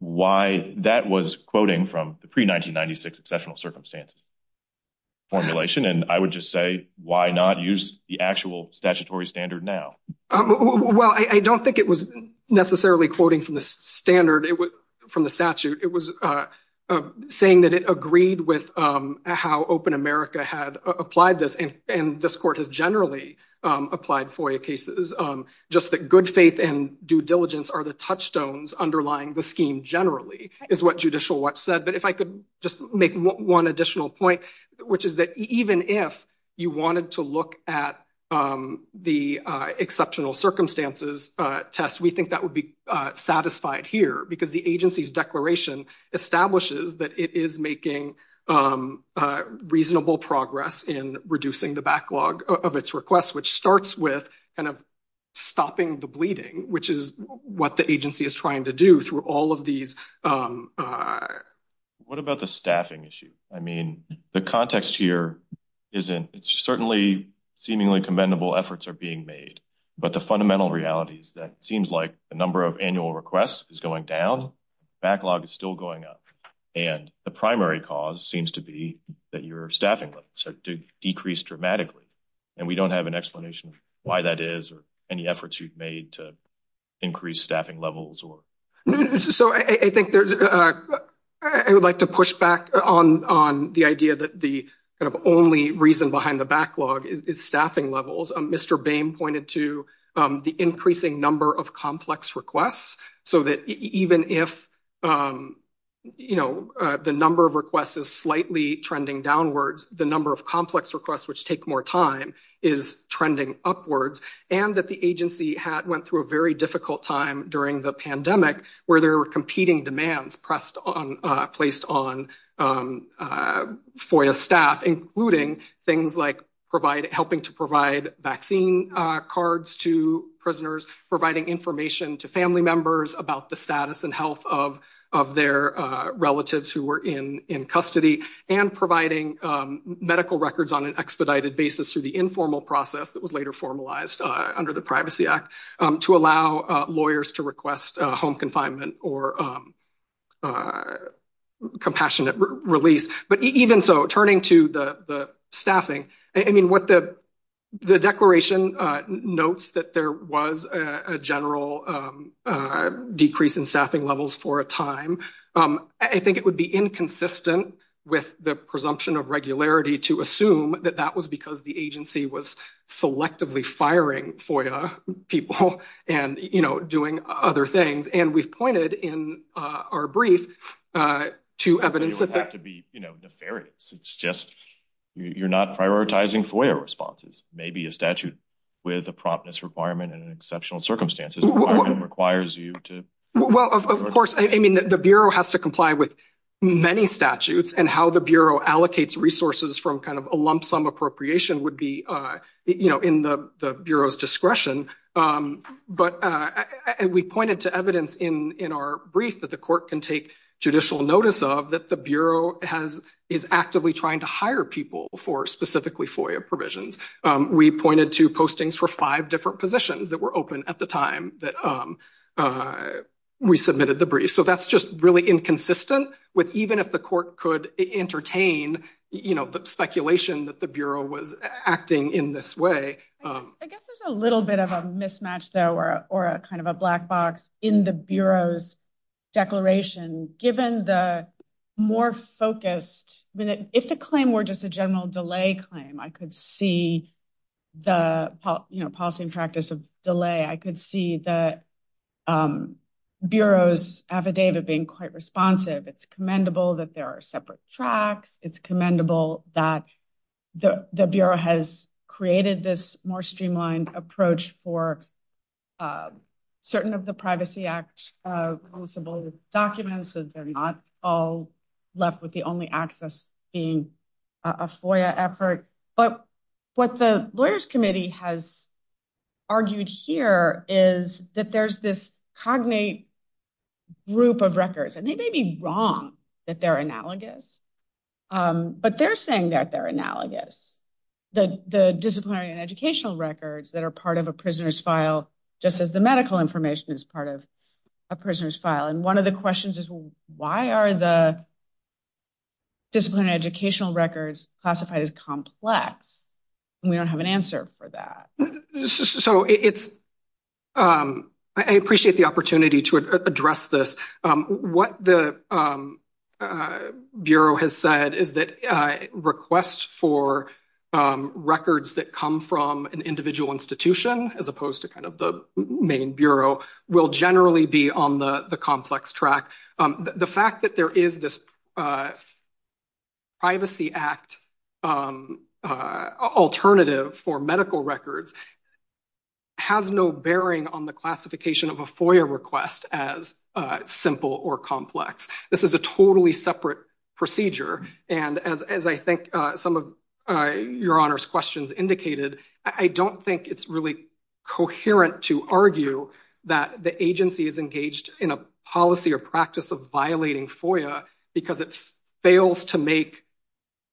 why that was quoting from the pre-1996 exceptional circumstances formulation. And I would just say, why not use the actual statutory standard now? Well, I don't think it was necessarily quoting from the standard, from the statute. It was saying that it agreed with how Open America had applied this. And this generally applied FOIA cases. Just that good faith and due diligence are the touchstones underlying the scheme generally is what judicial watch said. But if I could just make one additional point, which is that even if you wanted to look at the exceptional circumstances test, we think that would be satisfied here because the agency's declaration establishes that it is making a reasonable progress in reducing the backlog of its requests, which starts with kind of stopping the bleeding, which is what the agency is trying to do through all of these. What about the staffing issue? I mean, the context here isn't, it's certainly seemingly commendable efforts are being made, but the fundamental reality is that it seems like the number of requests is going down. Backlog is still going up. And the primary cause seems to be that your staffing levels have decreased dramatically. And we don't have an explanation of why that is or any efforts you've made to increase staffing levels. So I think there's, I would like to push back on the idea that the kind of only reason behind the backlog is staffing levels. Mr. Boehm pointed to the increasing number of complex requests so that even if the number of requests is slightly trending downwards, the number of complex requests, which take more time is trending upwards. And that the agency had went through a very difficult time during the pandemic where there were competing demands placed on FOIA staff, including things like providing, helping to provide vaccine cards to prisoners, providing information to family members about the status and health of their relatives who were in custody and providing medical records on an expedited basis through the informal process that was later formalized under the Privacy Act to allow lawyers to request home confinement or compassionate release. But even so, turning to the staffing, I mean, what the declaration notes that there was a general decrease in staffing levels for a time. I think it would be inconsistent with the presumption of regularity to assume that that was because the agency was selectively firing FOIA people and, you know, doing other things. And we've pointed in our brief to evidence that... You don't have to be, you know, nefarious. It's just you're not prioritizing FOIA responses. Maybe a statute with a promptness requirement in exceptional circumstances requires you to... Well, of course, I mean, the Bureau has to comply with many statutes and how the Bureau allocates resources from kind of a lump sum appropriation would be, you know, in the Bureau's discretion. But we pointed to evidence in our brief that the court can take judicial notice of that the Bureau is actively trying to hire people for specifically FOIA provisions. We pointed to postings for five different positions that were open at the time that we submitted the brief. So that's just really inconsistent with even if the court could entertain, you know, the speculation that the Bureau was acting in this way. I guess there's a little bit of a mismatch, though, or a kind of a black box in the Bureau's declaration given the more focused... I mean, if the claim were just a general delay claim, I could see the, you know, policy and practice of delay. I could see the Bureau's affidavit being quite responsive. It's commendable that there are separate tracks. It's commendable that the Bureau has created this more streamlined approach for certain of the Privacy Act-enforceable documents that they're not all left with the only access being a FOIA effort. But what the Lawyers Committee has argued here is that there's this cognate group of records, and they may be wrong that they're analogous, but they're saying that they're analogous. The disciplinary and educational records that are part of a prisoner's file, just as the medical information is part of a prisoner's file. And one of the questions is, why are the disciplinary educational records classified as complex? And we don't have an answer for that. So it's... I appreciate the opportunity to address this. What the Bureau has said is that requests for records that come from an individual institution, as opposed to kind of the main Bureau, will generally be on the complex track. The fact that there is this Privacy Act alternative for medical records has no bearing on the classification of a FOIA request as simple or complex. This is a totally separate procedure, and as I think some of Your Honor's questions indicated, I don't think it's really coherent to argue that the agency is engaged in a policy or practice of violating FOIA because it fails to make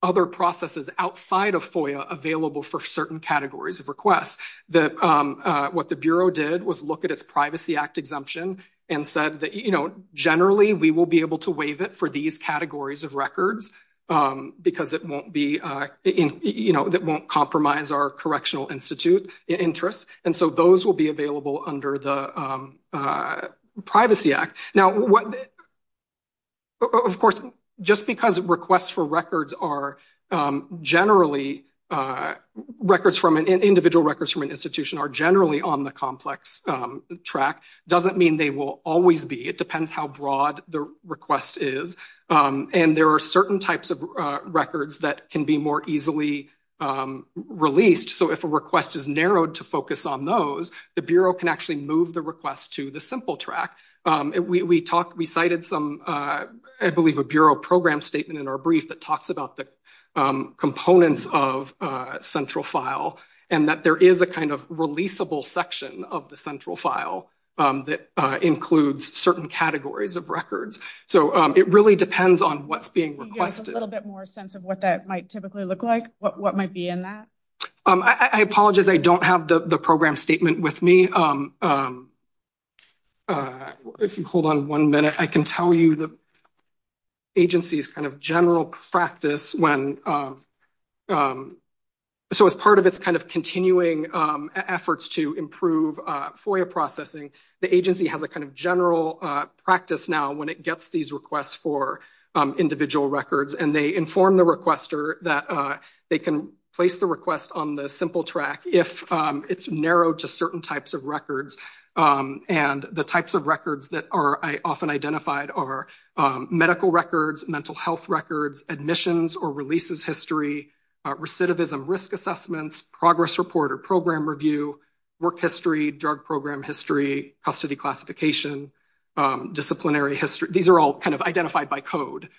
other processes outside of FOIA available for certain categories of requests. What the Bureau did was look at its Privacy Act exemption and said that, you know, generally we will be able to waive it for these categories of records because it won't be, you know, that won't compromise our Correctional Institute interests. And so those will be available under the Privacy Act. Now, of course, just because requests for records are generally records from an individual records from an institution are generally on the complex track doesn't mean they will always be. It depends how broad the request is. And there are certain types of records that can be more easily released. So if a request is narrowed to focus on those, the Bureau can actually move the request to the simple track. We cited some, I believe, a Bureau program statement in our brief that talks about the components of a central file and that there is a kind of releasable section of the records. So it really depends on what's being requested. A little bit more sense of what that might typically look like, what might be in that. I apologize. I don't have the program statement with me. If you hold on one minute, I can tell you the agency's kind of general practice when, so as part of its kind of continuing efforts to improve FOIA processing, the agency has a kind of general practice now when it gets these requests for individual records and they inform the requester that they can place the request on the simple track if it's narrowed to certain types of records. And the types of records that are often identified are medical records, mental health records, admissions or releases history, recidivism risk assessments, progress report or program review, work history, drug program history, custody classification, disciplinary history. These are all kind of identified by code.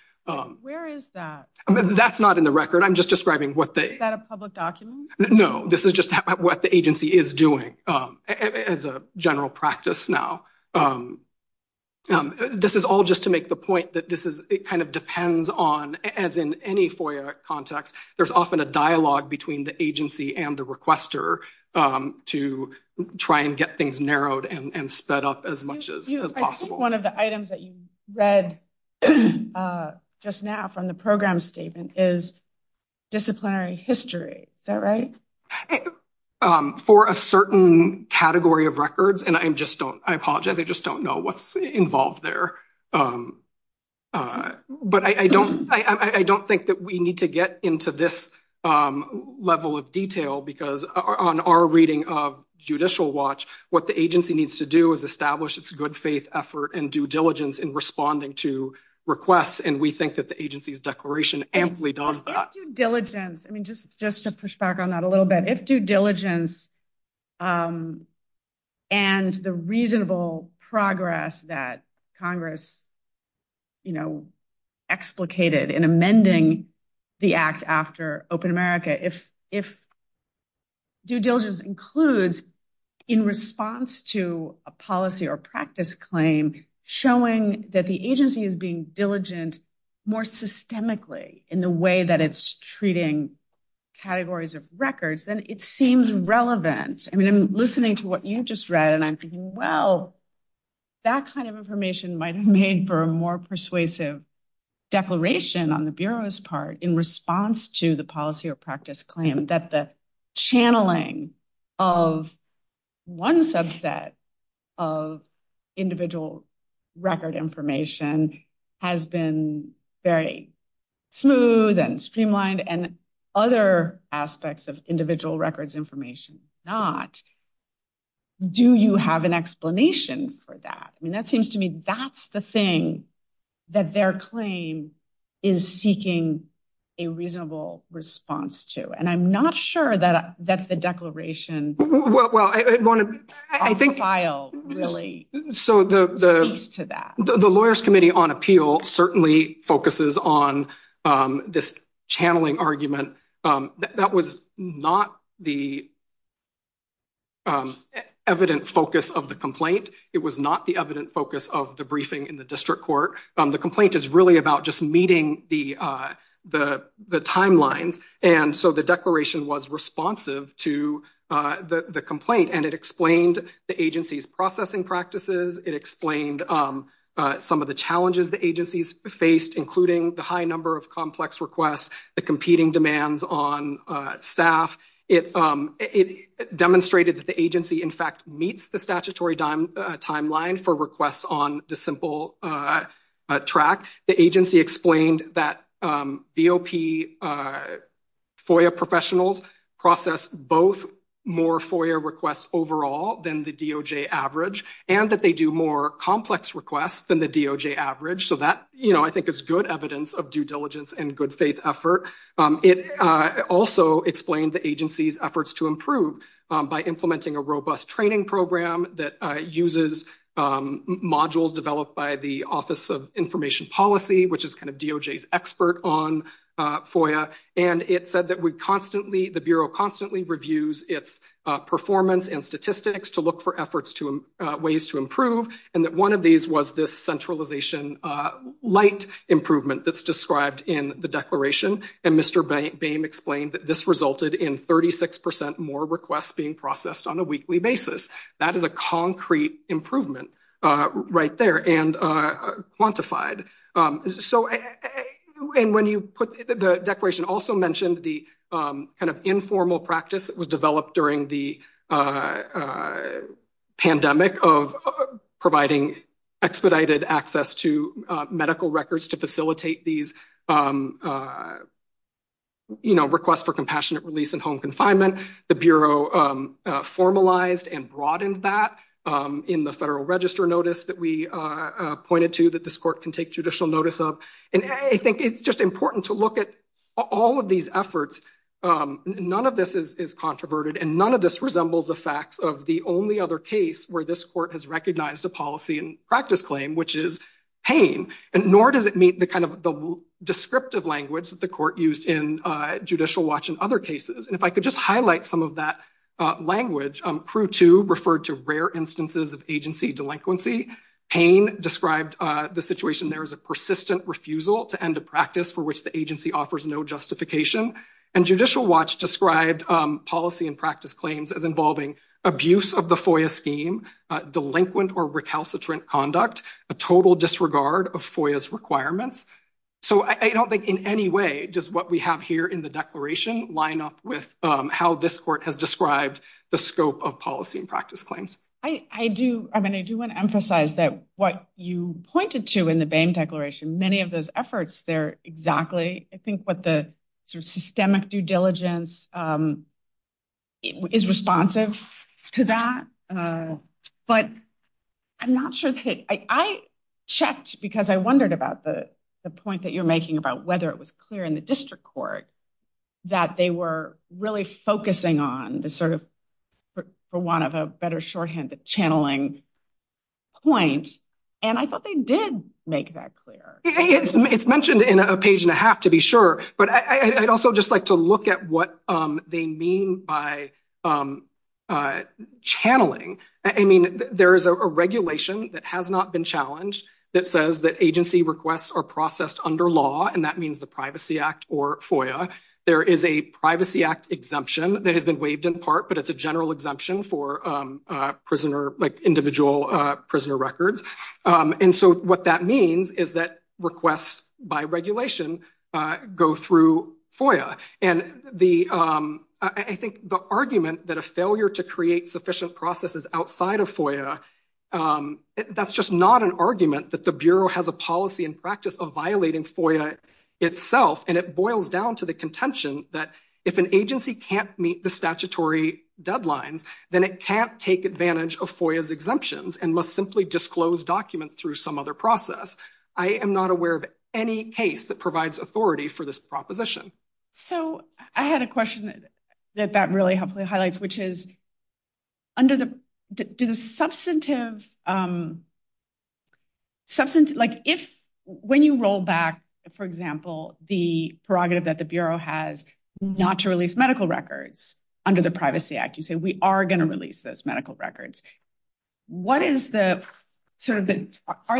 Where is that? That's not in the record. I'm just describing what they... Is that a public document? No, this is just what the agency is doing as a general practice now. This is all just to make the point that this is, it kind of depends on, as in any FOIA context, there's often a dialogue between the agency and the requester to try and get things narrowed and sped up as much as possible. I think one of the items that you read just now from the program statement is disciplinary history. Is that right? For a certain category of records, and I just don't, I apologize, I just don't know what's involved there. But I don't think that we need to get into this level of detail because on our reading of Judicial Watch, what the agency needs to do is establish its good faith effort and due diligence in responding to requests. And we think that the agency's declaration amply does that. If due diligence, I mean, just to push back on that a little bit, if due diligence and the reasonable progress that Congress, you know, explicated in amending the Act after Open America, if due diligence includes, in response to a policy or practice claim, showing that the agency is being diligent more systemically in the way that it's treating categories of records, then it seems relevant. I mean, I'm listening to what you just read, and I'm thinking, well, that kind of information might have made for a more persuasive declaration on the Bureau's part in response to the policy or practice claim that the channeling of one subset of individual record information has been very smooth and streamlined and other aspects of individual records information not. Do you have an explanation for that? I mean, that seems to me that's the thing that their claim is seeking a reasonable response to. And I'm not sure that the declaration off the file really speaks to that. The Lawyers Committee on Appeal certainly focuses on this channeling argument. That was not the evident focus of the complaint. It was not the evident focus of the briefing in the district court. The complaint is really about meeting the timelines. And so the declaration was responsive to the complaint, and it explained the agency's processing practices. It explained some of the challenges the agency's faced, including the high number of complex requests, the competing demands on staff. It demonstrated that the agency, in fact, meets the statutory timeline for requests on the simple track. The agency explained that BOP FOIA professionals process both more FOIA requests overall than the DOJ average, and that they do more complex requests than the DOJ average. So that, you know, I think is good evidence of due diligence and good faith effort. It also explained the agency's efforts to improve by implementing a robust training program that uses modules developed by the Office of Information Policy, which is kind of DOJ's expert on FOIA. And it said that the Bureau constantly reviews its performance and statistics to look for ways to improve, and that one of these was this centralization light improvement that's described in the declaration. And Mr. Boehm explained that this resulted in 36 percent more requests being processed on a weekly basis. That is a concrete improvement right there and quantified. So, and when you put, the declaration also mentioned the kind of informal practice that was developed during the pandemic of providing expedited access to medical records to facilitate these, you know, requests for compassionate release and home confinement. The Bureau formalized and broadened that in the federal register notice that we pointed to that this court can take judicial notice of. And I think it's just important to look at all of these efforts. None of this is controverted, and none of this resembles the facts of the only other case where this court has recognized a policy and practice claim, which is pain, and nor does it meet the descriptive language that the court used in Judicial Watch in other cases. And if I could just highlight some of that language, Prue 2 referred to rare instances of agency delinquency. Pain described the situation there as a persistent refusal to end a practice for which the agency offers no justification. And Judicial Watch described policy and practice claims as involving abuse of the FOIA scheme, delinquent or recalcitrant conduct, a total disregard of FOIA's requirements. So I don't think in any way does what we have here in the declaration line up with how this court has described the scope of policy and practice claims. I do. I mean, I do want to emphasize that what you pointed to in the Boehm declaration, many of those efforts there, exactly. I think what the sort of systemic due diligence is responsive to that. But I'm not sure that I checked because I wondered about the point that you're making about whether it was clear in the district court that they were really focusing on the sort of, for want of a better shorthand, the channeling point. And I thought they did make that clear. It's mentioned in a page and a half to be sure, but I'd also just like to look at what they mean by channeling. I mean, there is a regulation that has not been challenged that says that agency requests are processed under law, and that means the Privacy Act or FOIA. There is a Privacy Act exemption that has been waived in part, but it's a general exemption for prisoner, like individual prisoner records. And so what that means is that requests by regulation go through FOIA. And I think the argument that a failure to create sufficient processes outside of FOIA, that's just not an argument that the Bureau has a policy and practice of violating FOIA itself. And it boils down to the contention that if an agency can't meet the statutory deadlines, then it can't take advantage of FOIA's exemptions and must simply disclose documents through some other process. I am not aware of any case that provides authority for this proposition. So I had a question that that really helpfully highlights, which is, when you roll back, for example, the prerogative that the Bureau has not to release medical records under the Privacy Act, you say we are going to release those medical records. Are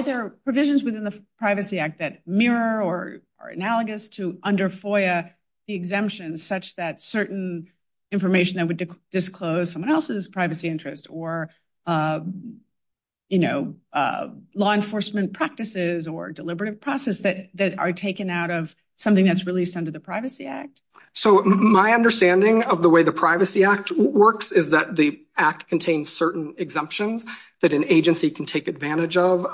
there provisions within the Privacy Act that mirror or are analogous to under FOIA the exemptions such that certain information that would disclose someone else's privacy interest or law enforcement practices or deliberative process that are taken out of something that's released under the Privacy Act? So my understanding of the way the Privacy Act works is that the Act contains certain exemptions that an agency can take advantage of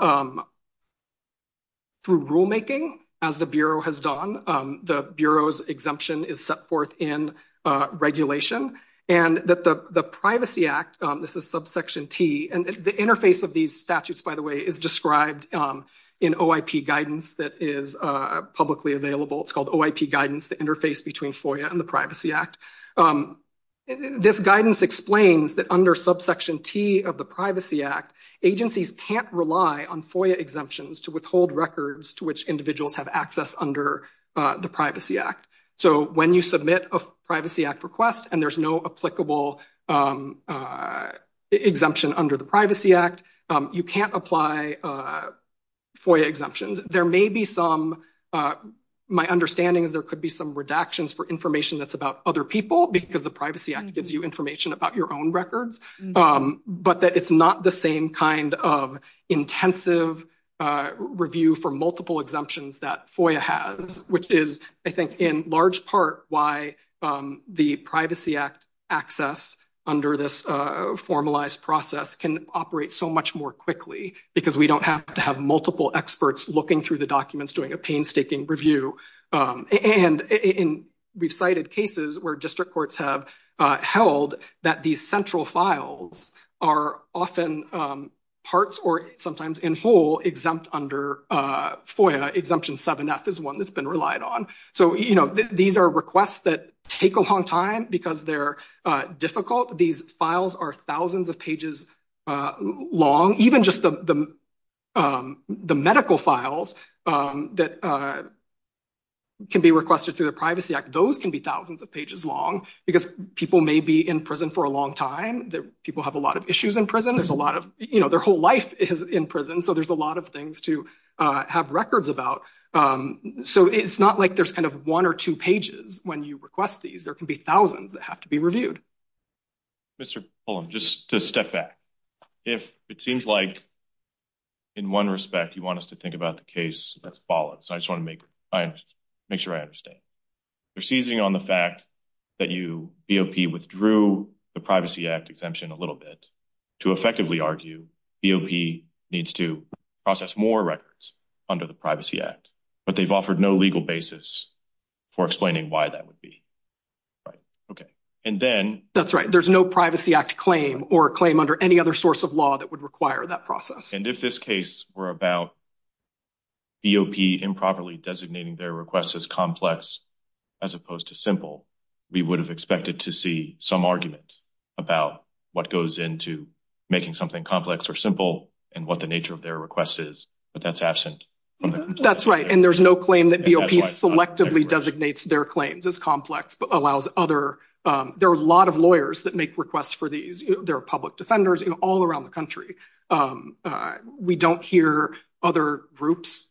through rulemaking, as the Bureau has done. The Bureau's exemption is set forth in regulation. And that the Privacy Act, this is subsection T, and the interface of these statutes, by the way, is described in OIP guidance that is publicly available. It's called OIP guidance, the guidance explains that under subsection T of the Privacy Act, agencies can't rely on FOIA exemptions to withhold records to which individuals have access under the Privacy Act. So when you submit a Privacy Act request and there's no applicable exemption under the Privacy Act, you can't apply FOIA exemptions. There may be some, my understanding is there could be some redactions for information that's about other people because the Privacy Act gives you information about your own records, but that it's not the same kind of intensive review for multiple exemptions that FOIA has, which is, I think, in large part why the Privacy Act access under this formalized process can operate so much more quickly, because we don't have to have multiple experts looking through the documents doing a painstaking review. And we've cited cases where district courts have held that these central files are often parts or sometimes in whole exempt under FOIA. Exemption 7f is one that's been relied on. So, you know, these are requests that take a long time because they're difficult. These can be requested through the Privacy Act. Those can be thousands of pages long because people may be in prison for a long time. People have a lot of issues in prison. There's a lot of, you know, their whole life is in prison, so there's a lot of things to have records about. So it's not like there's kind of one or two pages when you request these. There can be thousands that have to be reviewed. Mr. Pullum, just to step back, if it seems like in one respect you want us to think about the case that's followed, so I just want to make sure I understand. They're seizing on the fact that you, BOP, withdrew the Privacy Act exemption a little bit to effectively argue BOP needs to process more records under the Privacy Act, but they've offered no legal basis for explaining why that would be. Right. Okay. And then... That's right. There's no Privacy Act claim or claim under any other source of law that would require that process. And if this case were about BOP improperly designating their requests as complex as opposed to simple, we would have expected to see some argument about what goes into making something complex or simple and what the nature of their request is, but that's absent. That's right, and there's no claim that BOP selectively designates their claims as complex but allows other... There are a lot of lawyers that requests for these. There are public defenders all around the country. We don't hear other groups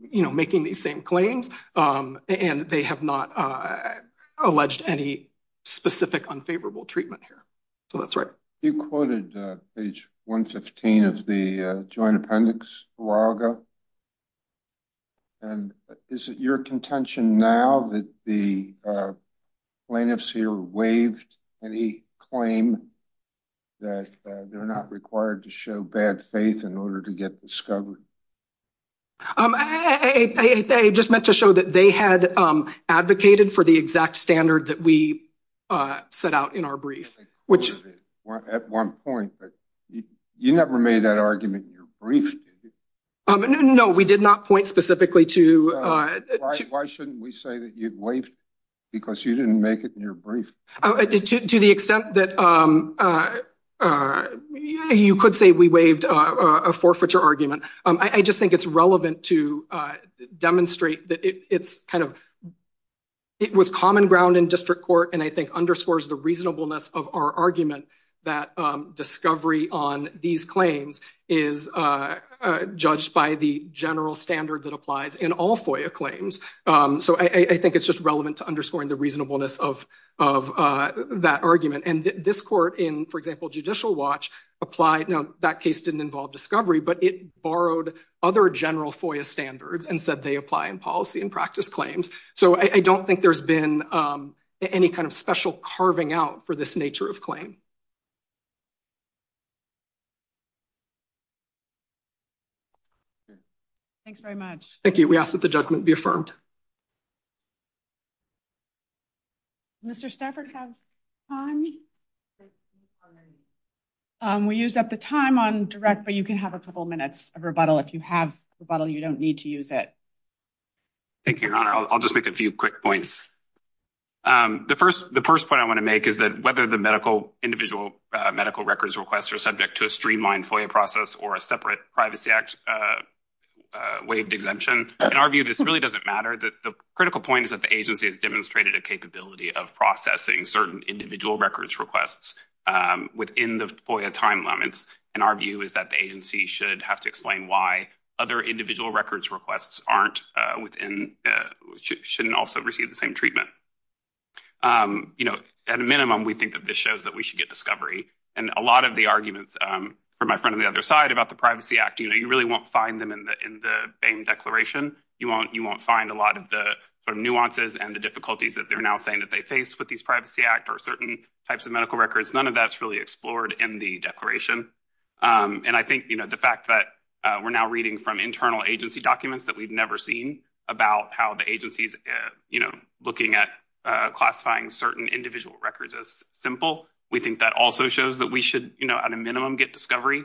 making these same claims, and they have not alleged any specific unfavorable treatment here. So that's right. You quoted page 115 of the Joint Appendix, Uraga, and is it your contention now that the plaintiffs here waived any claim that they're not required to show bad faith in order to get discovered? I just meant to show that they had advocated for the exact standard that we set out in our brief, which... At one point, but you never made that argument in your brief. No, we did not point specifically to... Why shouldn't we say that you waived because you didn't make it in your brief? To the extent that you could say we waived a forfeiture argument. I just think it's relevant to demonstrate that it was common ground in district court and I think underscores the reasonableness of our argument that discovery on these claims is judged by the general standard that applies in all FOIA claims. So I think it's just relevant to underscoring the reasonableness of that argument. And this court in, for example, Judicial Watch applied... Now, that case didn't involve discovery, but it borrowed other general FOIA standards and said they apply in policy and practice claims. So I don't think there's been any kind of special carving out for this nature of claim. Okay. Thanks very much. Thank you. We ask that the judgment be affirmed. Mr. Stafford, do you have time? We used up the time on direct, but you can have a couple minutes of rebuttal. If you have rebuttal, you don't need to use it. Thank you, Your Honor. I'll just make a few quick points. The first point I want to make is that whether the medical individual medical records request are subject to a streamlined FOIA process or a separate Privacy Act waived exemption, in our view, this really doesn't matter. The critical point is that the agency has demonstrated a capability of processing certain individual records requests within the FOIA time limits, and our view is that the agency should have to explain why other individual records requests shouldn't also receive the same treatment. At a minimum, we think that this shows that we should get discovery. A lot of the arguments from my friend on the other side about the Privacy Act, you really won't find them in the BAME Declaration. You won't find a lot of the nuances and the difficulties that they're now saying that they face with these Privacy Act or certain types of medical records. None of that's really explored in the Declaration. I think the fact that we're now reading from internal agency documents that we've never seen about how the agency's looking at classifying certain individual records as simple, we think that also shows that we should, you know, at a minimum, get discovery.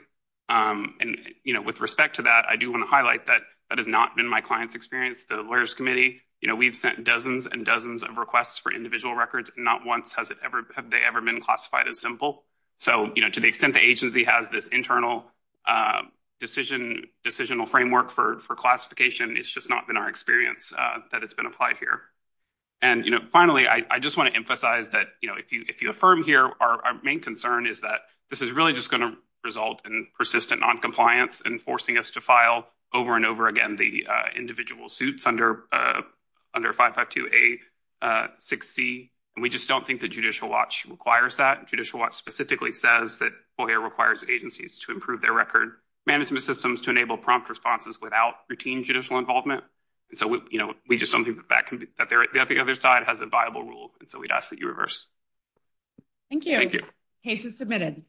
With respect to that, I do want to highlight that that has not been my client's experience. The Lawyers' Committee, you know, we've sent dozens and dozens of requests for individual records. Not once have they ever been classified as simple. So, you know, to the extent the agency has this internal decisional framework for classification, it's just not been our experience that it's been applied here. And, you know, finally, I just want to emphasize that, you know, if you affirm here, our main concern is that this is really just going to result in persistent noncompliance and forcing us to file over and over again the individual suits under 552A6C. And we just don't think that Judicial Watch requires that. Judicial Watch specifically says that FOIA requires agencies to approve their record management systems to enable prompt responses without routine judicial involvement. And so, you know, we just don't think that the other side has a viable rule. And so we'd ask that you reverse. Thank you. Thank you. Case is submitted.